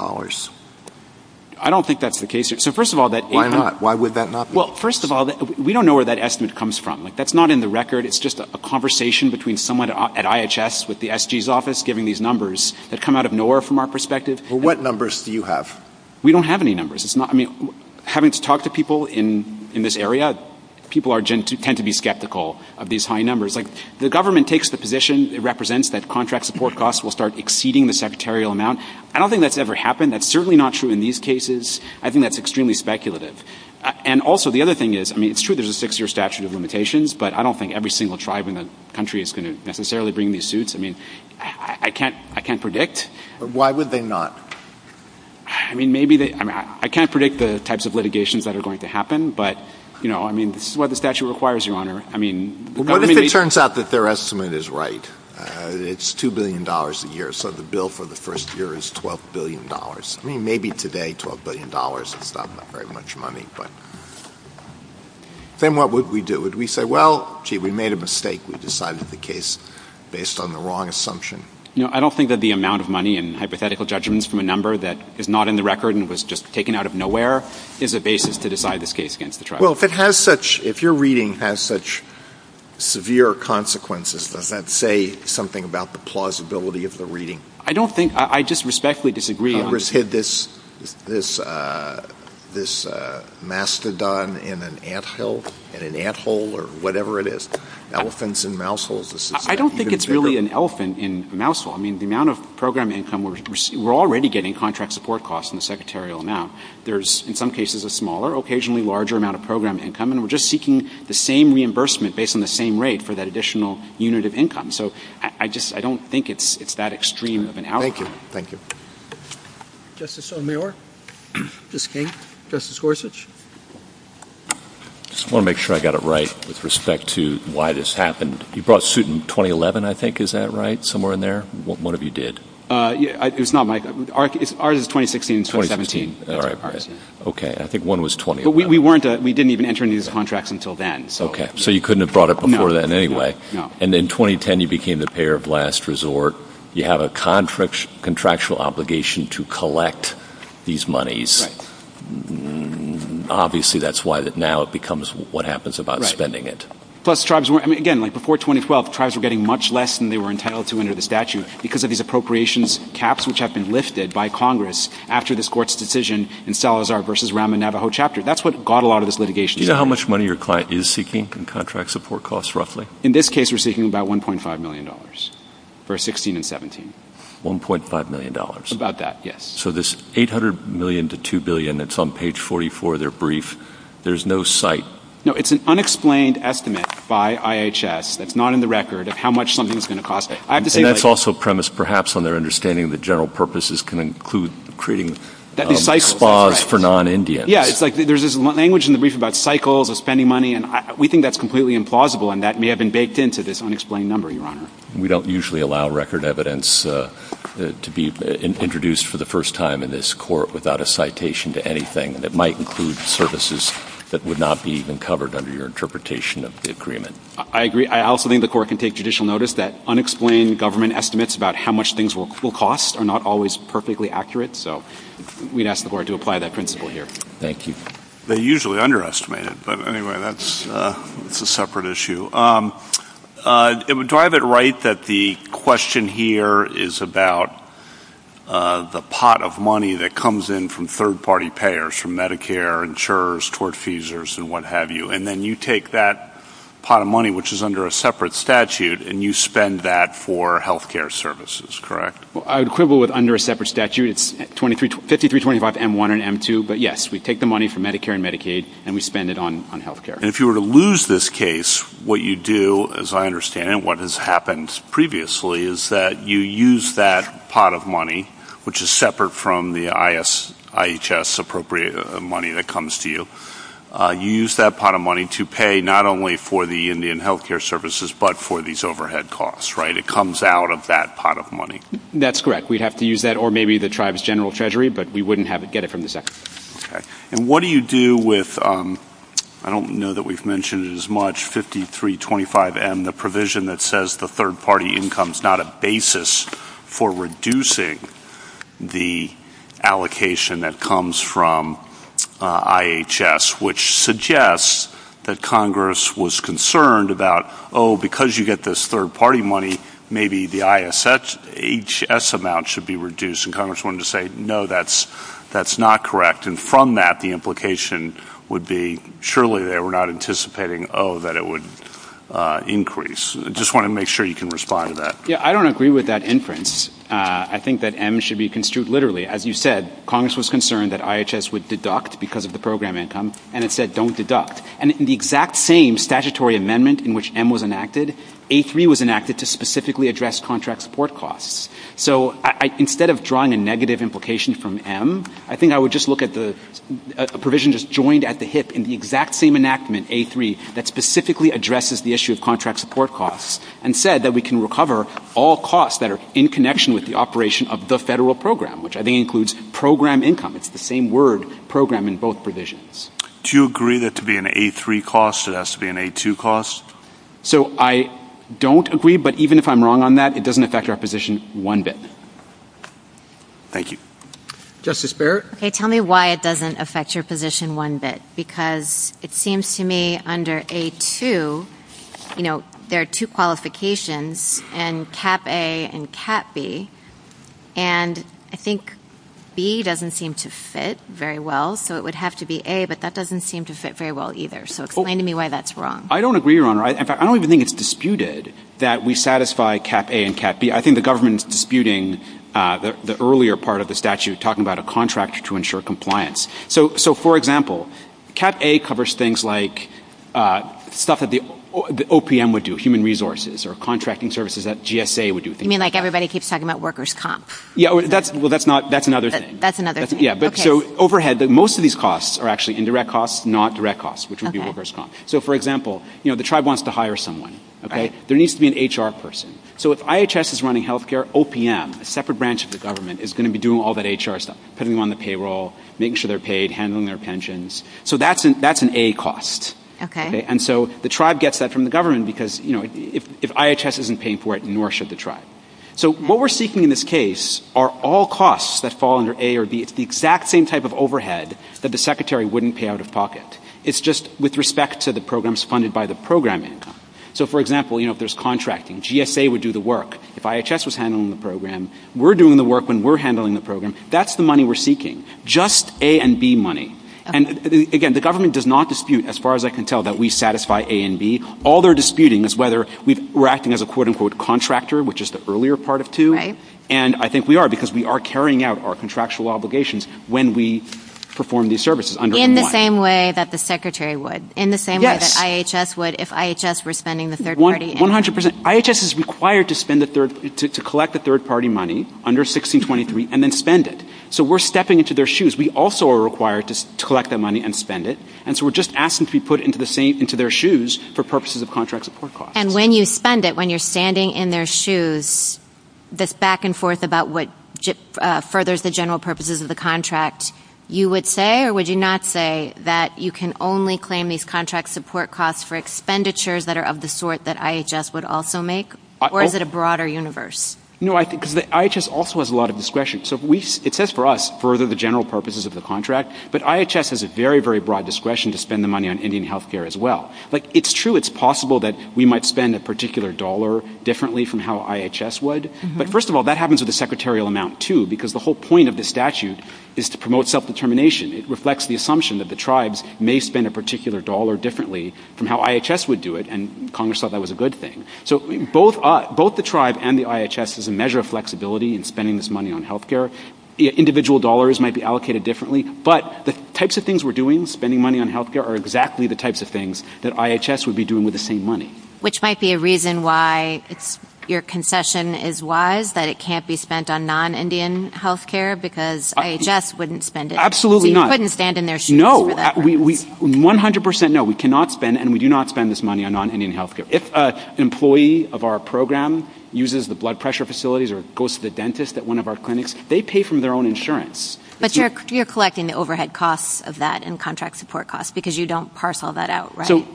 I don't think that's the case here. So first of all, why would that not be? Well, first of all, we don't know where that estimate comes from. That's not in the record. It's just a conversation between someone at IHS with the SG's office giving these numbers that come out of nowhere from our perspective. Well, what numbers do you have? We don't have any numbers. I mean, having to talk to people in this area, people tend to be skeptical of these high numbers. The government takes the position it represents that contract support costs will start exceeding the secretarial amount. I don't think that's ever happened. That's certainly not true in these cases. I think that's extremely speculative. And also, the other thing is, I mean, it's true there's a six-year statute of limitations, but I don't think every single tribe in the country is going to necessarily bring these suits. I mean, I can't predict. Why would they not? I mean, maybe they – I mean, I can't predict the types of litigations that are going to happen, but, you know, I mean, this is what the statute requires, Your Honor. I mean – What if it turns out that their estimate is right? It's $2 billion a year, so the bill for the first year is $12 billion. I mean, maybe today $12 billion is not very much money, but then what would we do? Would we say, well, gee, we made a mistake. We decided the case based on the wrong assumption? You know, I don't think that the amount of money and hypothetical judgments from a number that is not in the record and was just taken out of nowhere is a basis to decide this case against the tribe. Well, if it has such – if your reading has such severe consequences, does that say something about the plausibility of the reading? I don't think – I just respectfully disagree. Congress hid this mastodon in an anthill, in an ant hole, or whatever it is. Elephants in mouse holes. I don't think it's really an elephant in a mouse hole. I mean, the amount of program income – we're already getting contract support costs in the secretarial amount. There's, in some cases, a smaller, occasionally larger amount of program income, and we're just seeking the same reimbursement based on the same rate for that additional unit of income. So I just – I don't think it's that extreme of an outcome. Thank you. Thank you. Justice O'Meara? Justice King? Justice Gorsuch? I just want to make sure I got it right with respect to why this happened. You brought suit in 2011, I think. Is that right? Somewhere in there? One of you did. It's not my – ours is 2016. 2017. All right. Okay. I think one was 20. But we weren't – we didn't even enter into these contracts until then. Okay. So you couldn't have brought it before then anyway. No. And in 2010, you became the payer of last resort. You have a contractual obligation to collect these monies. Right. Obviously, that's why that now it becomes what happens about spending it. Right. Plus, tribes weren't – I mean, again, like before 2012, tribes were getting much less than they were entitled to under the statute because of these appropriations caps which have been lifted by Congress after this court's decision in Salazar v. Rahm in the Navajo chapter. That's what got a lot of this litigation. Do you know how much money your client is seeking in contract support costs, roughly? In this case, we're seeking about $1.5 million for 2016 and 2017. $1.5 million. About that, yes. So this $800 million to $2 billion that's on page 44 of their brief, there's no site. No. It's an unexplained estimate by IHS that's not in the record of how much something is going to cost. And that's also premised perhaps on their understanding that general purposes can include creating spas for non-Indians. Yeah. It's like there's this language in the brief about cycles of spending money, and we think that's completely implausible, and that may have been baked into this unexplained number, Your Honor. We don't usually allow record evidence to be introduced for the first time in this court without a citation to anything, and it might include services that would not be even covered under your interpretation of the agreement. I agree. I also think the court can take judicial notice that unexplained government estimates about how much things will cost are not always perfectly accurate, so we'd ask the court to apply that principle here. Thank you. They usually underestimate it, but anyway, that's a separate issue. Do I have it right that the question here is about the pot of money that comes in from third-party payers from Medicare, insurers, tortfeasors, and what have you, and then you take that pot of money, which is under a separate statute, and you spend that for health care services, correct? Equivalent under a separate statute, it's 5325 M1 and M2, but yes, we take the money from Medicare and Medicaid and we spend it on health care. And if you were to lose this case, what you do, as I understand it, what has happened previously is that you use that pot of money, which is separate from the IHS-appropriate money that comes to you, you use that pot of money to pay not only for the Indian health care services but for these overhead costs, right? It comes out of that pot of money. That's correct. We'd have to use that or maybe the tribe's general treasury, but we wouldn't get it from the sector. Okay. And what do you do with, I don't know that we've mentioned it as much, 5325 M, the provision that says the third-party income is not a basis for reducing the allocation that comes from IHS, which suggests that Congress was concerned about, oh, because you get this third-party money, maybe the IHS amount should be reduced, and Congress wanted to say, no, that's not correct, and from that the implication would be surely they were not anticipating, oh, that it would increase. I just want to make sure you can respond to that. Yeah, I don't agree with that inference. I think that M should be construed literally. As you said, Congress was concerned that IHS would deduct because of the program income, and it said don't deduct. And in the exact same statutory amendment in which M was enacted, A3 was enacted to specifically address contract support costs. So instead of drawing a negative implication from M, I think I would just look at the provision just joined at the hip in the exact same enactment, A3, that specifically addresses the issue of contract support costs and said that we can recover all costs that are in connection with the operation of the federal program, which I think includes program income. It's the same word, program, in both provisions. Do you agree that to be an A3 cost it has to be an A2 cost? So I don't agree, but even if I'm wrong on that, it doesn't affect our position one bit. Thank you. Justice Barrett? Okay, tell me why it doesn't affect your position one bit, because it seems to me under A2, you know, there are two qualifications in Cap A and Cap B, and I think B doesn't seem to fit very well, so it would have to be A, but that doesn't seem to fit very well either. So explain to me why that's wrong. I don't agree, Your Honor. I don't even think it's disputed that we satisfy Cap A and Cap B. I think the government is disputing the earlier part of the statute talking about a contract to ensure compliance. So, for example, Cap A covers things like stuff that the OPM would do, human resources, or contracting services that GSA would do. You mean like everybody keeps talking about workers' comp? Yeah, well, that's another thing. That's another thing, okay. So overhead, most of these costs are actually indirect costs, not direct costs, which would be workers' comp. So, for example, you know, the tribe wants to hire someone, okay. There needs to be an HR person. So if IHS is running health care, OPM, a separate branch of the government, is going to be doing all that HR stuff, putting them on the payroll, making sure they're paid, handling their pensions. So that's an A cost. Okay. And so the tribe gets that from the government because, you know, if IHS isn't paying for it, nor should the tribe. So what we're seeking in this case are all costs that fall under A or B. It's the exact same type of overhead that the secretary wouldn't pay out of pocket. It's just with respect to the programs funded by the program income. So, for example, you know, if there's contracting, GSA would do the work. If IHS was handling the program, we're doing the work when we're handling the program. That's the money we're seeking, just A and B money. And, again, the government does not dispute, as far as I can tell, that we satisfy A and B. All they're disputing is whether we're acting as a, quote-unquote, contractor, which is the earlier part of two. And I think we are because we are carrying out our contractual obligations when we perform these services under the law. In the same way that the secretary would. In the same way that IHS would if IHS were spending the third party. One hundred percent. IHS is required to collect the third party money under 1623 and then spend it. So we're stepping into their shoes. We also are required to collect that money and spend it. And so we're just asking to be put into their shoes for purposes of contract support costs. And when you spend it, when you're standing in their shoes, this back and forth about what furthers the general purposes of the contract, you would say, or would you not say, that you can only claim these contract support costs for expenditures that are of the sort that IHS would also make? Or is it a broader universe? No, because IHS also has a lot of discretion. So it says for us, further the general purposes of the contract. But IHS has a very, very broad discretion to spend the money on Indian health care as well. Like, it's true it's possible that we might spend a particular dollar differently from how IHS would. But, first of all, that happens with a secretarial amount, too, because the whole point of this statute is to promote self-determination. It reflects the assumption that the tribes may spend a particular dollar differently from how IHS would do it, and Congress thought that was a good thing. So both the tribe and the IHS is a measure of flexibility in spending this money on health care. Individual dollars might be allocated differently. But the types of things we're doing, spending money on health care, are exactly the types of things that IHS would be doing with the same money. Which might be a reason why your concession is wise, that it can't be spent on non-Indian health care, because IHS wouldn't spend it. Absolutely not. You couldn't stand in their shoes for that. No, 100% no, we cannot spend, and we do not spend this money on non-Indian health care. If an employee of our program uses the blood pressure facilities or goes to the dentist at one of our clinics, they pay from their own insurance. But you're collecting the overhead costs of that and contract support costs, because you don't parcel that out, right? So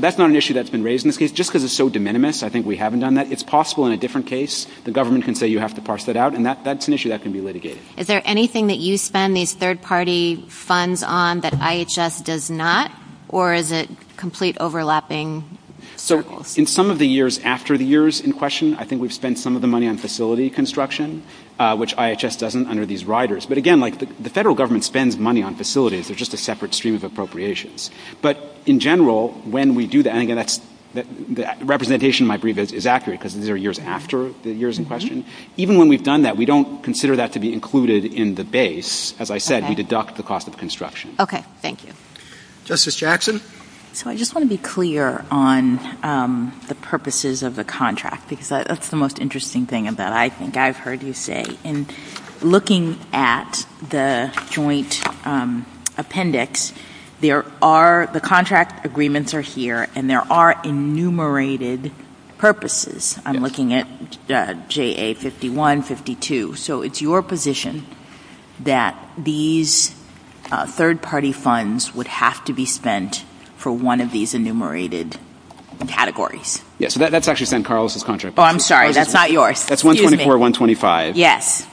that's not an issue that's been raised in this case. Just because it's so de minimis, I think we haven't done that. It's possible in a different case the government can say you have to parcel it out, and that's an issue that can be litigated. Is there anything that you spend these third-party funds on that IHS does not? Or is it complete overlapping? So in some of the years after the years in question, I think we've spent some of the money on facility construction, which IHS doesn't under these riders. But again, the federal government spends money on facilities. They're just a separate stream of appropriations. But in general, when we do that, and again, that representation, I believe, is accurate, because these are years after the years in question. Even when we've done that, we don't consider that to be included in the base. As I said, we deduct the cost of construction. Okay. Thank you. Justice Jackson? So I just want to be clear on the purposes of the contract, because that's the most interesting thing that I think I've heard you say. Looking at the joint appendix, the contract agreements are here, and there are enumerated purposes. I'm looking at JA-51, 52. So it's your position that these third-party funds would have to be spent for one of these enumerated categories. Yes, that's actually spent on Carlos's contract. Oh, I'm sorry. That's not yours. That's 124, 125. Yes.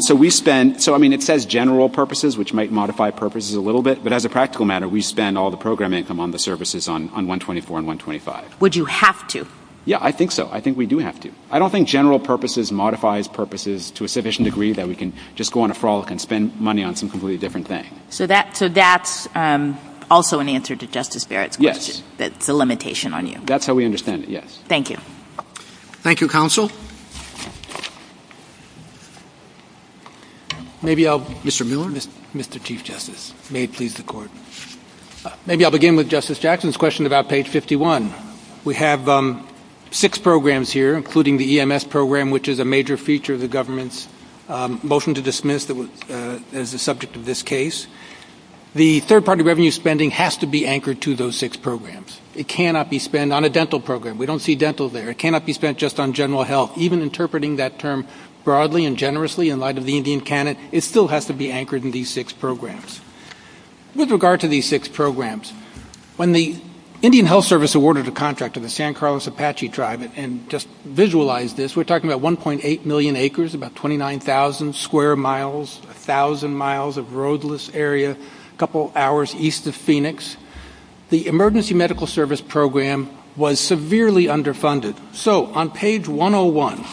So it says general purposes, which might modify purposes a little bit, but as a practical matter, we spend all the program income on the services on 124 and 125. Would you have to? Yeah, I think so. I think we do have to. I don't think general purposes modifies purposes to a sufficient degree that we can just go on a frolic and spend money on some completely different thing. So that's also an answer to Justice Barrett's question, that it's a limitation on you. That's how we understand it, yes. Thank you. Thank you, Counsel. Maybe I'll begin with Justice Jackson's question about page 51. We have six programs here, including the EMS program, which is a major feature of the government's motion to dismiss as the subject of this case. The third-party revenue spending has to be anchored to those six programs. It cannot be spent on a dental program. We don't see dental there. It cannot be spent just on general health. Even interpreting that term broadly and generously in light of the Indian canon, it still has to be anchored in these six programs. With regard to these six programs, when the Indian Health Service awarded a contract to the San Carlos Apache tribe, and just visualize this, we're talking about 1.8 million acres, about 29,000 square miles, 1,000 miles of roadless area, a couple hours east of Phoenix. The emergency medical service program was severely underfunded. So on page 101,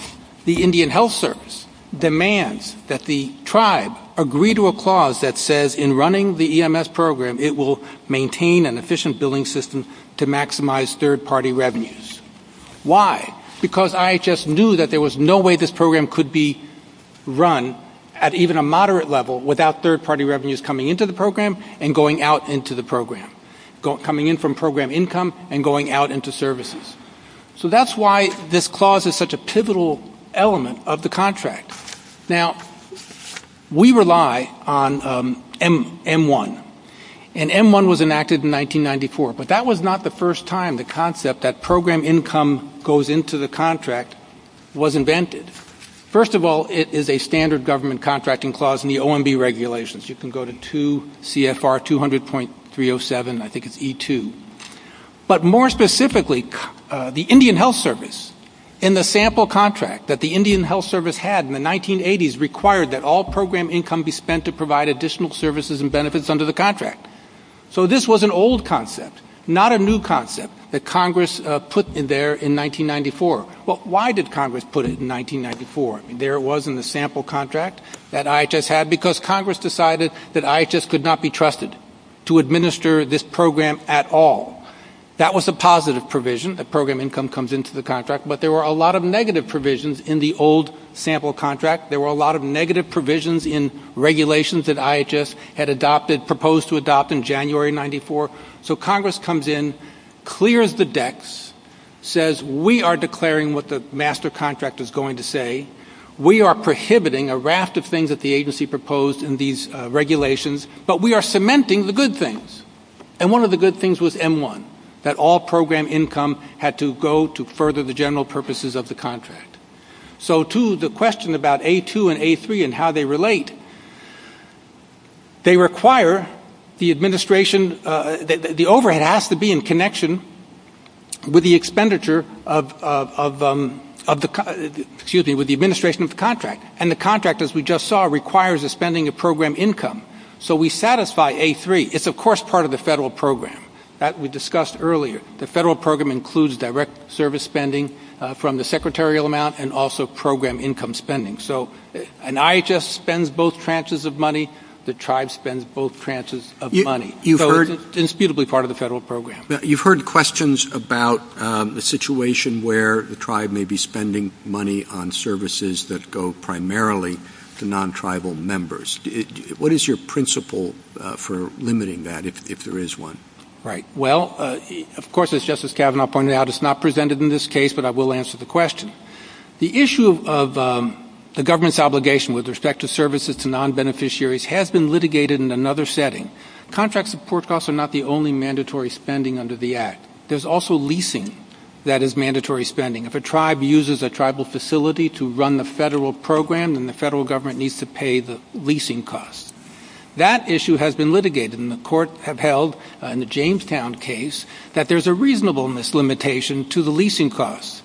the Indian Health Service demands that the tribe agree to a clause that says in running the EMS program, it will maintain an efficient billing system to maximize third-party revenues. Why? Because IHS knew that there was no way this program could be run at even a moderate level without third-party revenues coming into the program and going out into the program, coming in from program income and going out into services. So that's why this clause is such a pivotal element of the contract. Now, we rely on M1, and M1 was enacted in 1994, but that was not the first time the concept that program income goes into the contract was invented. First of all, it is a standard government contracting clause in the OMB regulations. You can go to CFR 200.307, I think it's E2. But more specifically, the Indian Health Service, in the sample contract that the Indian Health Service had in the 1980s, required that all program income be spent to provide additional services and benefits under the contract. So this was an old concept, not a new concept that Congress put in there in 1994. Well, why did Congress put it in 1994? There it was in the sample contract that IHS had because Congress decided that IHS could not be trusted to administer this program at all. That was a positive provision that program income comes into the contract, but there were a lot of negative provisions in the old sample contract. There were a lot of negative provisions in regulations that IHS had proposed to adopt in January of 1994. So Congress comes in, clears the decks, says, we are declaring what the master contract is going to say, we are prohibiting a raft of things that the agency proposed in these regulations, but we are cementing the good things. And one of the good things was M1, that all program income had to go to further the general purposes of the contract. So to the question about A2 and A3 and how they relate, they require the administration, the overhead has to be in connection with the expenditure of the, excuse me, with the administration of the contract. And the contract, as we just saw, requires the spending of program income. So we satisfy A3. It's, of course, part of the federal program that we discussed earlier. The federal program includes direct service spending from the secretarial amount and also program income spending. So an IHS spends both tranches of money. The tribe spends both tranches of money. So it's indisputably part of the federal program. You've heard questions about the situation where the tribe may be spending money on services that go primarily to non-tribal members. What is your principle for limiting that, if there is one? Right. Well, of course, as Justice Kavanaugh pointed out, it's not presented in this case, but I will answer the question. The issue of the government's obligation with respect to services to non-beneficiaries has been litigated in another setting. Contract support costs are not the only mandatory spending under the Act. There's also leasing that is mandatory spending. If a tribe uses a tribal facility to run the federal program, then the federal government needs to pay the leasing costs. That issue has been litigated, and the courts have held in the Jamestown case that there's a reasonableness limitation to the leasing costs.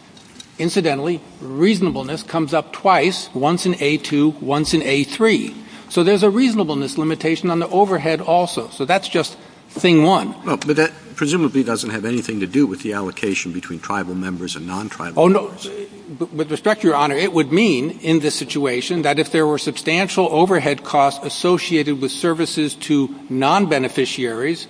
Incidentally, reasonableness comes up twice, once in A2, once in A3. So there's a reasonableness limitation on the overhead also. So that's just thing one. But that presumably doesn't have anything to do with the allocation between tribal members and non-tribal members. With respect, Your Honor, it would mean in this situation that if there were substantial overhead costs associated with services to non-beneficiaries,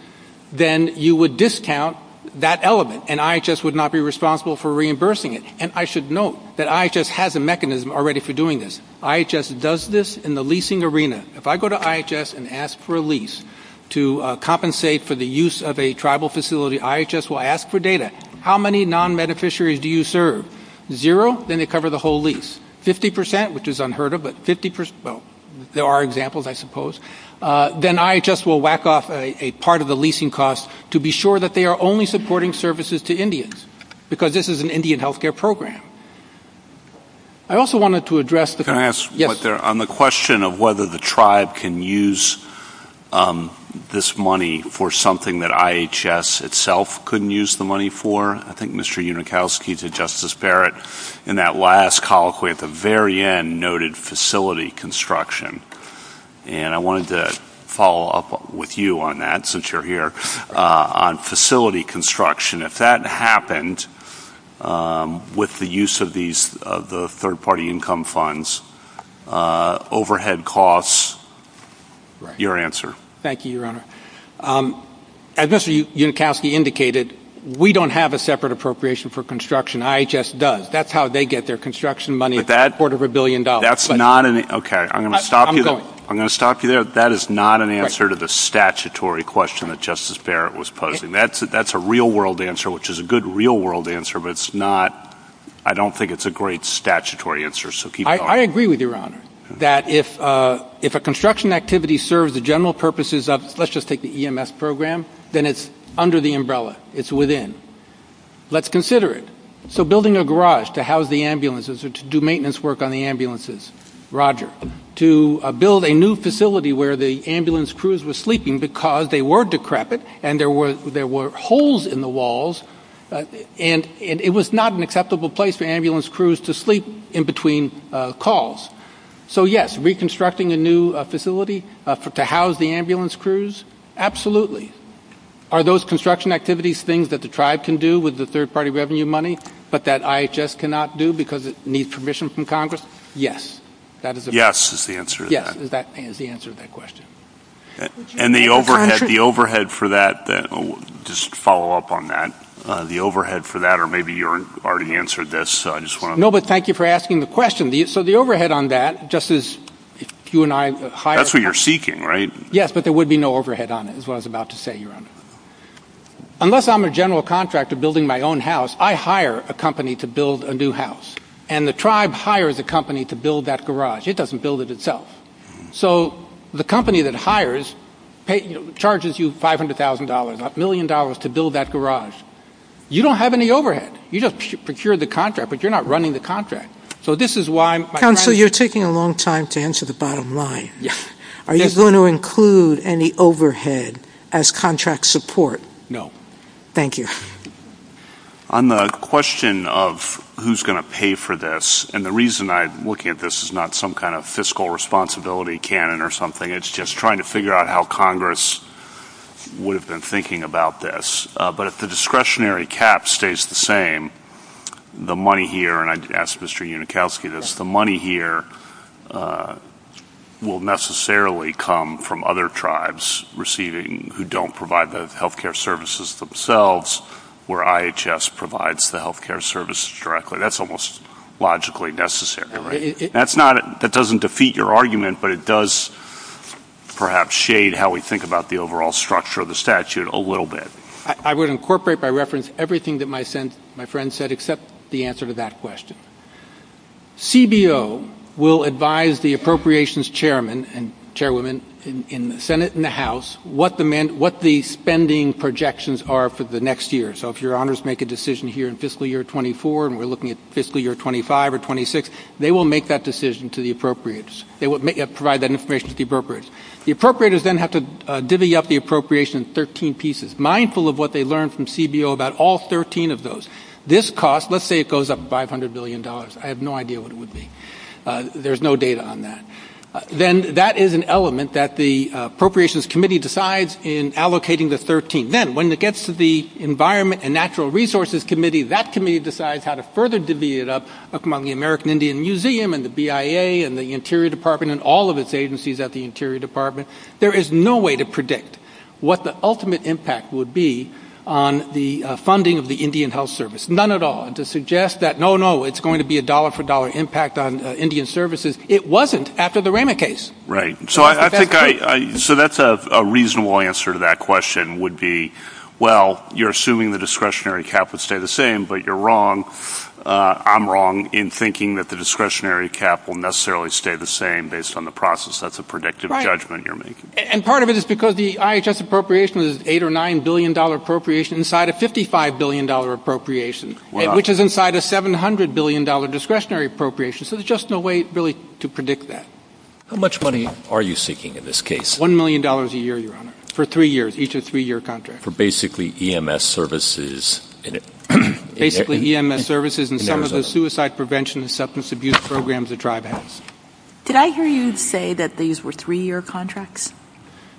then you would discount that element, and IHS would not be responsible for reimbursing it. And I should note that IHS has a mechanism already for doing this. IHS does this in the leasing arena. If I go to IHS and ask for a lease to compensate for the use of a tribal facility, IHS will ask for data. How many non-beneficiaries do you serve? Zero. Then they cover the whole lease. Fifty percent, which is unheard of, but 50 percent. Well, there are examples, I suppose. Then IHS will whack off a part of the leasing cost to be sure that they are only supporting services to Indians, because this is an Indian health care program. I also wanted to address the question of whether the tribe can use this money for something that IHS itself couldn't use the money for. I think Mr. Unikowski to Justice Barrett in that last colloquy at the very end noted facility construction, and I wanted to follow up with you on that since you're here on facility construction. If that happened with the use of the third-party income funds, overhead costs, your answer. Thank you, Your Honor. As Mr. Unikowski indicated, we don't have a separate appropriation for construction. IHS does. That's how they get their construction money, a quarter of a billion dollars. Okay, I'm going to stop you there. That is not an answer to the statutory question that Justice Barrett was posing. That's a real-world answer, which is a good real-world answer, but I don't think it's a great statutory answer. I agree with you, Your Honor, that if a construction activity serves the general purposes of, let's just take the EMS program, then it's under the umbrella. It's within. Let's consider it. So building a garage to house the ambulances or to do maintenance work on the ambulances. Roger. To build a new facility where the ambulance crews were sleeping because they were decrepit and there were holes in the walls, and it was not an acceptable place for ambulance crews to sleep in between calls. So, yes, reconstructing a new facility to house the ambulance crews, absolutely. Are those construction activities things that the tribe can do with the third-party revenue money, but that IHS cannot do because it needs permission from Congress? Yes. Yes is the answer to that. Yes, that is the answer to that question. And the overhead for that, just to follow up on that, the overhead for that, or maybe you already answered this. No, but thank you for asking the question. So the overhead on that, just as you and I hired. That's what you're seeking, right? Yes, but there would be no overhead on it, is what I was about to say, Your Honor. Unless I'm a general contractor building my own house, I hire a company to build a new house, and the tribe hires a company to build that garage. It doesn't build it itself. So the company that hires charges you $500,000, a million dollars, to build that garage. You don't have any overhead. You just procure the contract, but you're not running the contract. So this is why my plan is this. Counsel, you're taking a long time to answer the bottom line. Are you going to include any overhead as contract support? No. Thank you. On the question of who's going to pay for this, and the reason I'm looking at this is not some kind of fiscal responsibility cannon or something. It's just trying to figure out how Congress would have been thinking about this. But if the discretionary cap stays the same, the money here, and I asked Mr. Unikowski this, the money here will necessarily come from other tribes receiving, who don't provide the health care services themselves, where IHS provides the health care services directly. So that's almost logically necessary, right? That doesn't defeat your argument, but it does perhaps shade how we think about the overall structure of the statute a little bit. I would incorporate by reference everything that my friend said except the answer to that question. CBO will advise the appropriations chairmen and chairwomen in the Senate and the House what the spending projections are for the next year. So if your honors make a decision here in fiscal year 24 and we're looking at fiscal year 25 or 26, they will make that decision to the appropriators. They will provide that information to the appropriators. The appropriators then have to divvy up the appropriation in 13 pieces, mindful of what they learned from CBO about all 13 of those. This cost, let's say it goes up $500 billion. I have no idea what it would be. There's no data on that. Then that is an element that the appropriations committee decides in allocating the 13. Then when it gets to the Environment and Natural Resources Committee, that committee decides how to further divvy it up among the American Indian Museum and the BIA and the Interior Department and all of its agencies at the Interior Department. There is no way to predict what the ultimate impact would be on the funding of the Indian Health Service, none at all, to suggest that, no, no, it's going to be a dollar-for-dollar impact on Indian services. It wasn't after the Rema case. Right. So that's a reasonable answer to that question would be, well, you're assuming the discretionary cap would stay the same, but you're wrong. I'm wrong in thinking that the discretionary cap will necessarily stay the same based on the process. That's a predictive judgment you're making. And part of it is because the IHS appropriation is an $8 billion or $9 billion appropriation inside a $55 billion appropriation, which is inside a $700 billion discretionary appropriation. So there's just no way really to predict that. How much money are you seeking in this case? $1 million a year, Your Honor, for three years, each a three-year contract. For basically EMS services. Basically EMS services and some of the suicide prevention and substance abuse programs the tribe has. Did I hear you say that these were three-year contracts?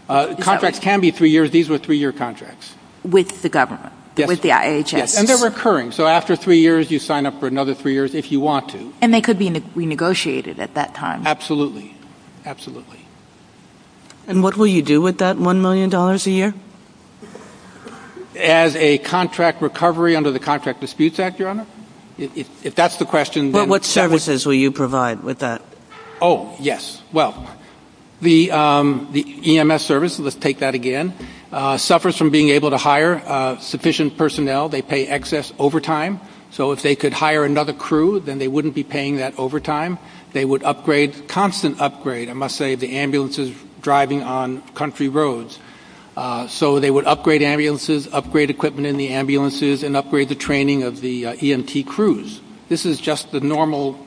Contracts can be three years. These were three-year contracts. With the government, with the IHS? Yes, and they're recurring. So after three years, you sign up for another three years if you want to. And they could be renegotiated at that time? Absolutely. Absolutely. And what will you do with that $1 million a year? As a contract recovery under the Contract Disputes Act, Your Honor. If that's the question, then... What services will you provide with that? Oh, yes. Well, the EMS service, let's take that again, suffers from being able to hire sufficient personnel. They pay excess overtime. So if they could hire another crew, then they wouldn't be paying that overtime. They would upgrade, constant upgrade, I must say, the ambulances driving on country roads. So they would upgrade ambulances, upgrade equipment in the ambulances, and upgrade the training of the EMT crews. This is just the normal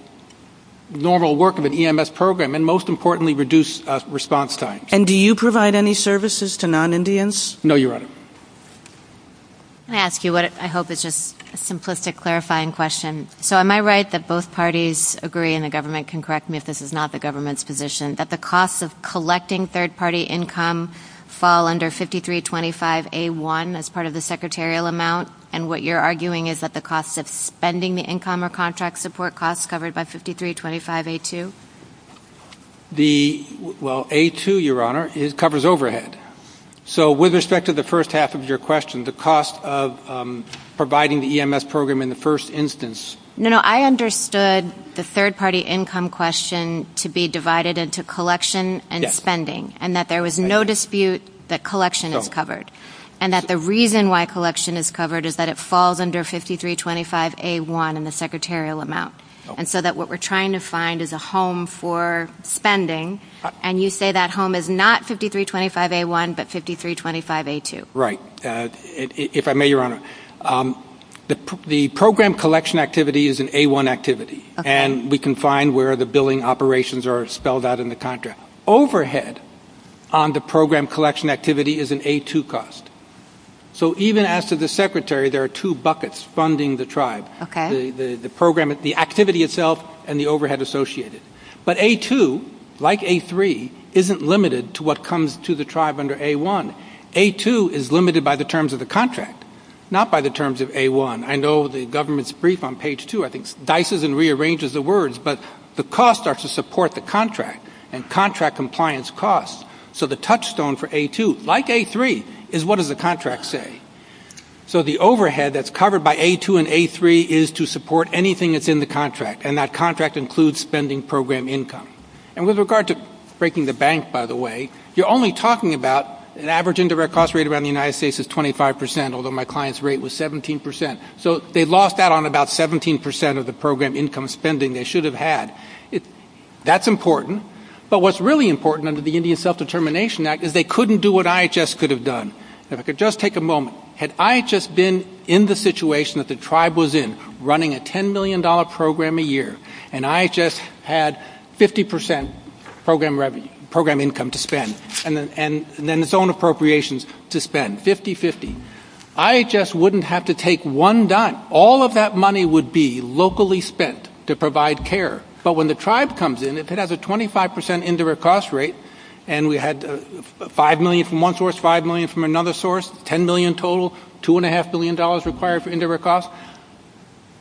work of an EMS program, and most importantly, reduce response time. And do you provide any services to non-Indians? No, Your Honor. Let me ask you what I hope is just a simplistic clarifying question. So am I right that both parties agree, and the government can correct me if this is not the government's position, that the cost of collecting third-party income fall under 5325A1 as part of the secretarial amount, and what you're arguing is that the cost of spending the income or contract support costs covered by 5325A2? Well, A2, Your Honor, covers overhead. So with respect to the first half of your question, the cost of providing the EMS program in the first instance? No, no, I understood the third-party income question to be divided into collection and spending, and that there was no dispute that collection is covered, and that the reason why collection is covered is that it falls under 5325A1 in the secretarial amount, and so that what we're trying to find is a home for spending, and you say that home is not 5325A1 but 5325A2. Right. If I may, Your Honor, the program collection activity is an A1 activity, and we can find where the billing operations are spelled out in the contract. Overhead on the program collection activity is an A2 cost. So even as to the secretary, there are two buckets funding the tribe. Okay. The activity itself and the overhead associated. But A2, like A3, isn't limited to what comes to the tribe under A1. A2 is limited by the terms of the contract, not by the terms of A1. I know the government's brief on page 2, I think, dices and rearranges the words, but the costs are to support the contract and contract compliance costs. So the touchstone for A2, like A3, is what does the contract say? So the overhead that's covered by A2 and A3 is to support anything that's in the contract, and that contract includes spending program income. And with regard to breaking the bank, by the way, you're only talking about an average indirect cost rate around the United States of 25%, although my client's rate was 17%. So they lost that on about 17% of the program income spending they should have had. That's important. But what's really important under the Indian Self-Determination Act is they couldn't do what IHS could have done. If I could just take a moment, had IHS been in the situation that the tribe was in, running a $10 million program a year, and IHS had 50% program income to spend, and then its own appropriations to spend, 50-50, IHS wouldn't have to take one dime. All of that money would be locally spent to provide care. But when the tribe comes in, if it has a 25% indirect cost rate, and we had $5 million from one source, $5 million from another source, $10 million total, $2.5 billion required for indirect costs,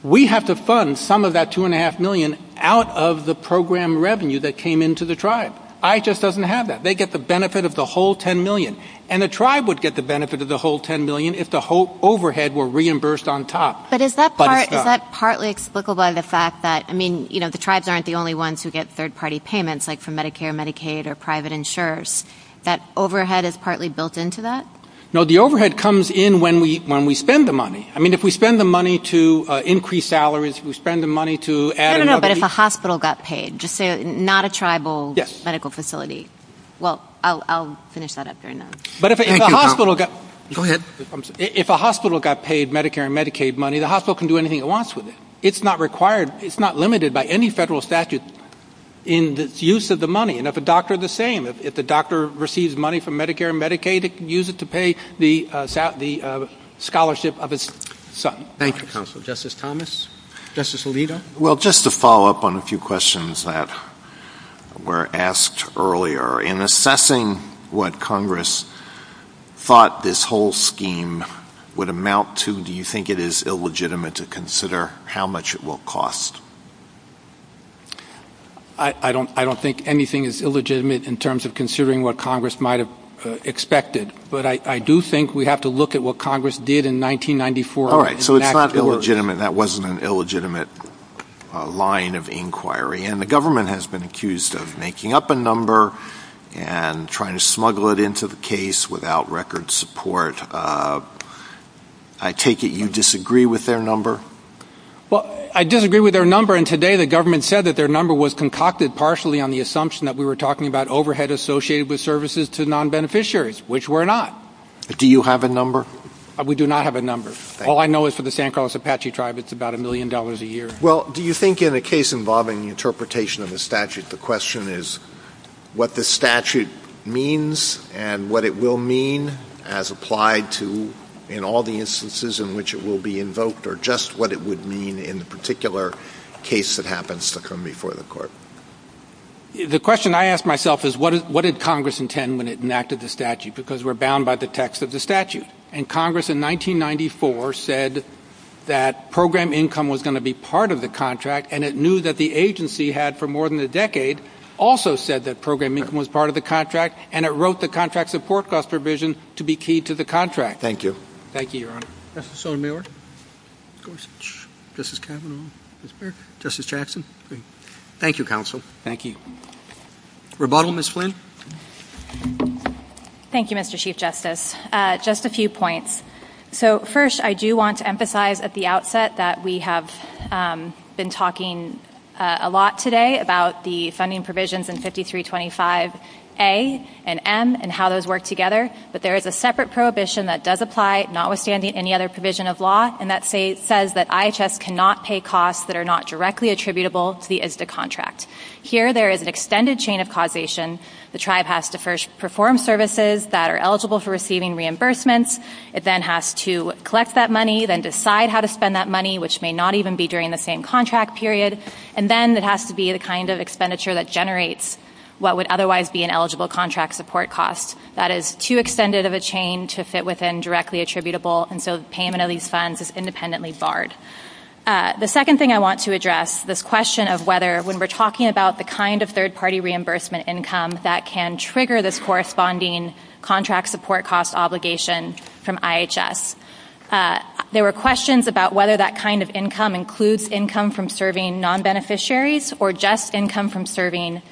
we have to fund some of that $2.5 million out of the program revenue that came into the tribe. IHS doesn't have that. They get the benefit of the whole $10 million. And the tribe would get the benefit of the whole $10 million if the whole overhead were reimbursed on top. But is that partly explicable by the fact that, I mean, you know, like for Medicare and Medicaid or private insurers, that overhead is partly built into that? No, the overhead comes in when we spend the money. I mean, if we spend the money to increase salaries, we spend the money to add in other things. No, no, no, but if a hospital got paid, just say not a tribal medical facility. Yes. Well, I'll finish that up there. But if a hospital got paid Medicare and Medicaid money, the hospital can do anything it wants with it. It's not required. It's not limited by any federal statute in the use of the money. And if a doctor, the same. If the doctor receives money from Medicare and Medicaid, it can use it to pay the scholarship of its son. Thank you, counsel. Justice Thomas? Justice Alito? Well, just to follow up on a few questions that were asked earlier, in assessing what Congress thought this whole scheme would amount to, do you think it is illegitimate to consider how much it will cost? I don't think anything is illegitimate in terms of considering what Congress might have expected. But I do think we have to look at what Congress did in 1994. All right. So it's not illegitimate. That wasn't an illegitimate line of inquiry. And the government has been accused of making up a number and trying to smuggle it into the case without record support. I take it you disagree with their number? Well, I disagree with their number, and today the government said that their number was concocted partially on the assumption that we were talking about overhead associated with services to non-beneficiaries, which we're not. Do you have a number? We do not have a number. All I know is for the San Carlos Apache tribe, it's about a million dollars a year. Well, do you think in a case involving the interpretation of the statute, the question is what the statute means and what it will mean as applied to in all the instances in which it will be invoked, or just what it would mean in a particular case that happens to come before the court? The question I ask myself is what did Congress intend when it enacted the statute, because we're bound by the text of the statute. And Congress in 1994 said that program income was going to be part of the contract, and it knew that the agency had for more than a decade also said that program income was part of the contract, and it wrote the contract support cost revision to be key to the contract. Thank you. Thank you, Your Honor. Justice O'Meara? Justice Kavanaugh? Justice Jackson? Thank you, Counsel. Thank you. Rebuttal, Ms. Flynn? Thank you, Mr. Chief Justice. Just a few points. So first I do want to emphasize at the outset that we have been talking a lot today about the funding provisions in 5325A and M and how those work together, but there is a separate prohibition that does apply, notwithstanding any other provision of law, and that says that IHS cannot pay costs that are not directly attributable to the ISDA contract. Here there is an extended chain of causation. The tribe has to first perform services that are eligible for receiving reimbursements. It then has to collect that money, then decide how to spend that money, which may not even be during the same contract period, and then it has to be the kind of expenditure that generates what would otherwise be an eligible contract support cost. That is too extended of a chain to fit within directly attributable, and so the payment of these funds is independently barred. The second thing I want to address, this question of whether when we're talking about the kind of third-party reimbursement income that can trigger this corresponding contract support cost obligation from IHS. There were questions about whether that kind of income includes income from serving non-beneficiaries or just income from serving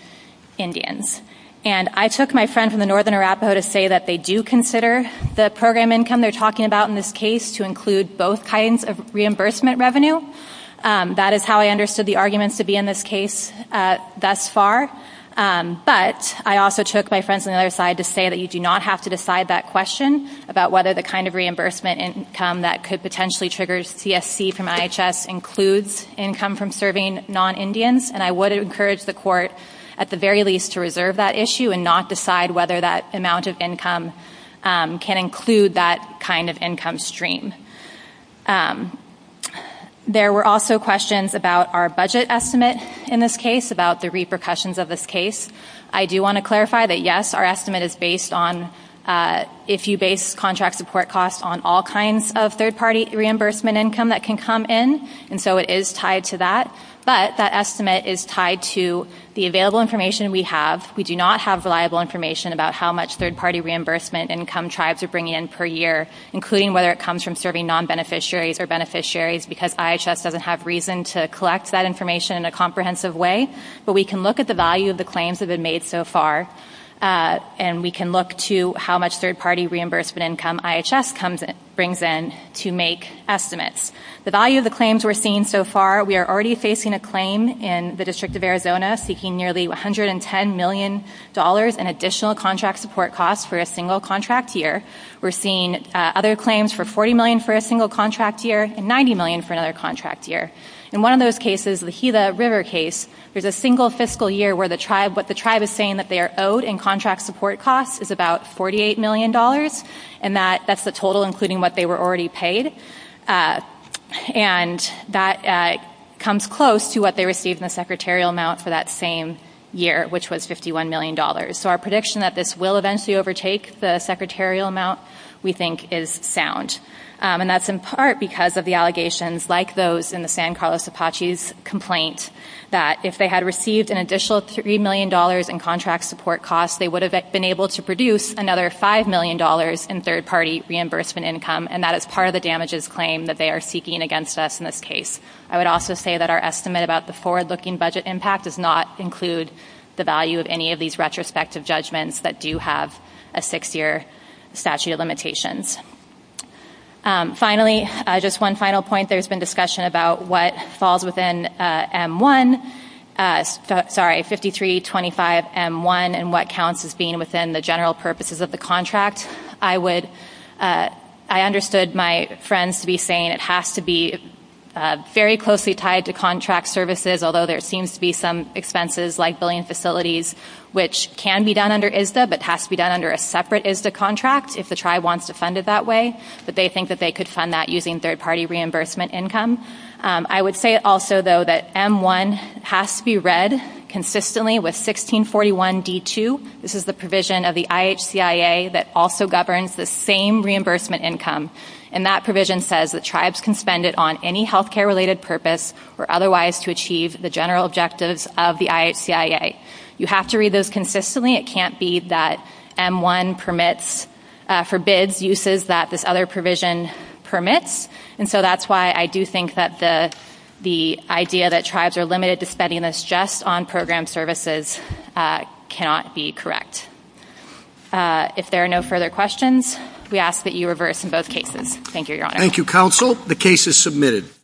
Indians, and I took my friends in the northern Arapaho to say that they do consider the program income they're talking about in this case to include both kinds of reimbursement revenue. That is how I understood the arguments to be in this case thus far, but I also took my friends on the other side to say that you do not have to decide that question about whether the kind of reimbursement income that could potentially trigger CSC from IHS includes income from serving non-Indians, and I would encourage the court at the very least to reserve that issue and not decide whether that amount of income can include that kind of income stream. There were also questions about our budget estimate in this case, about the repercussions of this case. I do want to clarify that, yes, our estimate is based on, if you base contract support costs on all kinds of third-party reimbursement income that can come in, and so it is tied to that, but that estimate is tied to the available information we have. We do not have reliable information about how much third-party reimbursement income tribes are bringing in per year, including whether it comes from serving non-beneficiaries or beneficiaries, because IHS does not have reason to collect that information in a comprehensive way, but we can look at the value of the claims that have been made so far, and we can look to how much third-party reimbursement income IHS brings in to make estimates. The value of the claims we are seeing so far, we are already facing a claim in the District of Arizona seeking nearly $110 million in additional contract support costs for a single contract year. We are seeing other claims for $40 million for a single contract year and $90 million for another contract year. In one of those cases, the Gila River case, there is a single fiscal year where what the tribe is saying that they are owed in contract support costs is about $48 million, and that is the total including what they were already paid, and that comes close to what they received in the secretarial amount for that same year, which was $51 million. So our prediction that this will eventually overtake the secretarial amount we think is sound, and that is in part because of the allegations like those in the San Carlos Apache's complaint that if they had received an additional $3 million in contract support costs, they would have been able to produce another $5 million in third-party reimbursement income, and that is part of the damages claim that they are seeking against us in this case. I would also say that our estimate about the forward-looking budget impact does not include the value of any of these retrospective judgments that do have a six-year statute of limitations. Finally, just one final point. There has been discussion about what falls within M1, sorry, 5325M1, and what counts as being within the general purposes of the contract. I understood my friends to be saying it has to be very closely tied to contract services, although there seems to be some expenses like billing facilities, which can be done under ISDA but has to be done under a separate ISDA contract if the tribe wants to fund it that way, but they think that they could fund that using third-party reimbursement income. I would say also, though, that M1 has to be read consistently with 1641D2. This is the provision of the IHCIA that also governs the same reimbursement income, and that provision says that tribes can spend it on any healthcare-related purpose or otherwise to achieve the general objectives of the IHCIA. You have to read those consistently. It can't be that M1 forbids uses that this other provision permits, and so that's why I do think that the idea that tribes are limited to spending this just on program services cannot be correct. If there are no further questions, we ask that you reverse in both cases. Thank you, Your Honor. Thank you, Counsel. The case is submitted.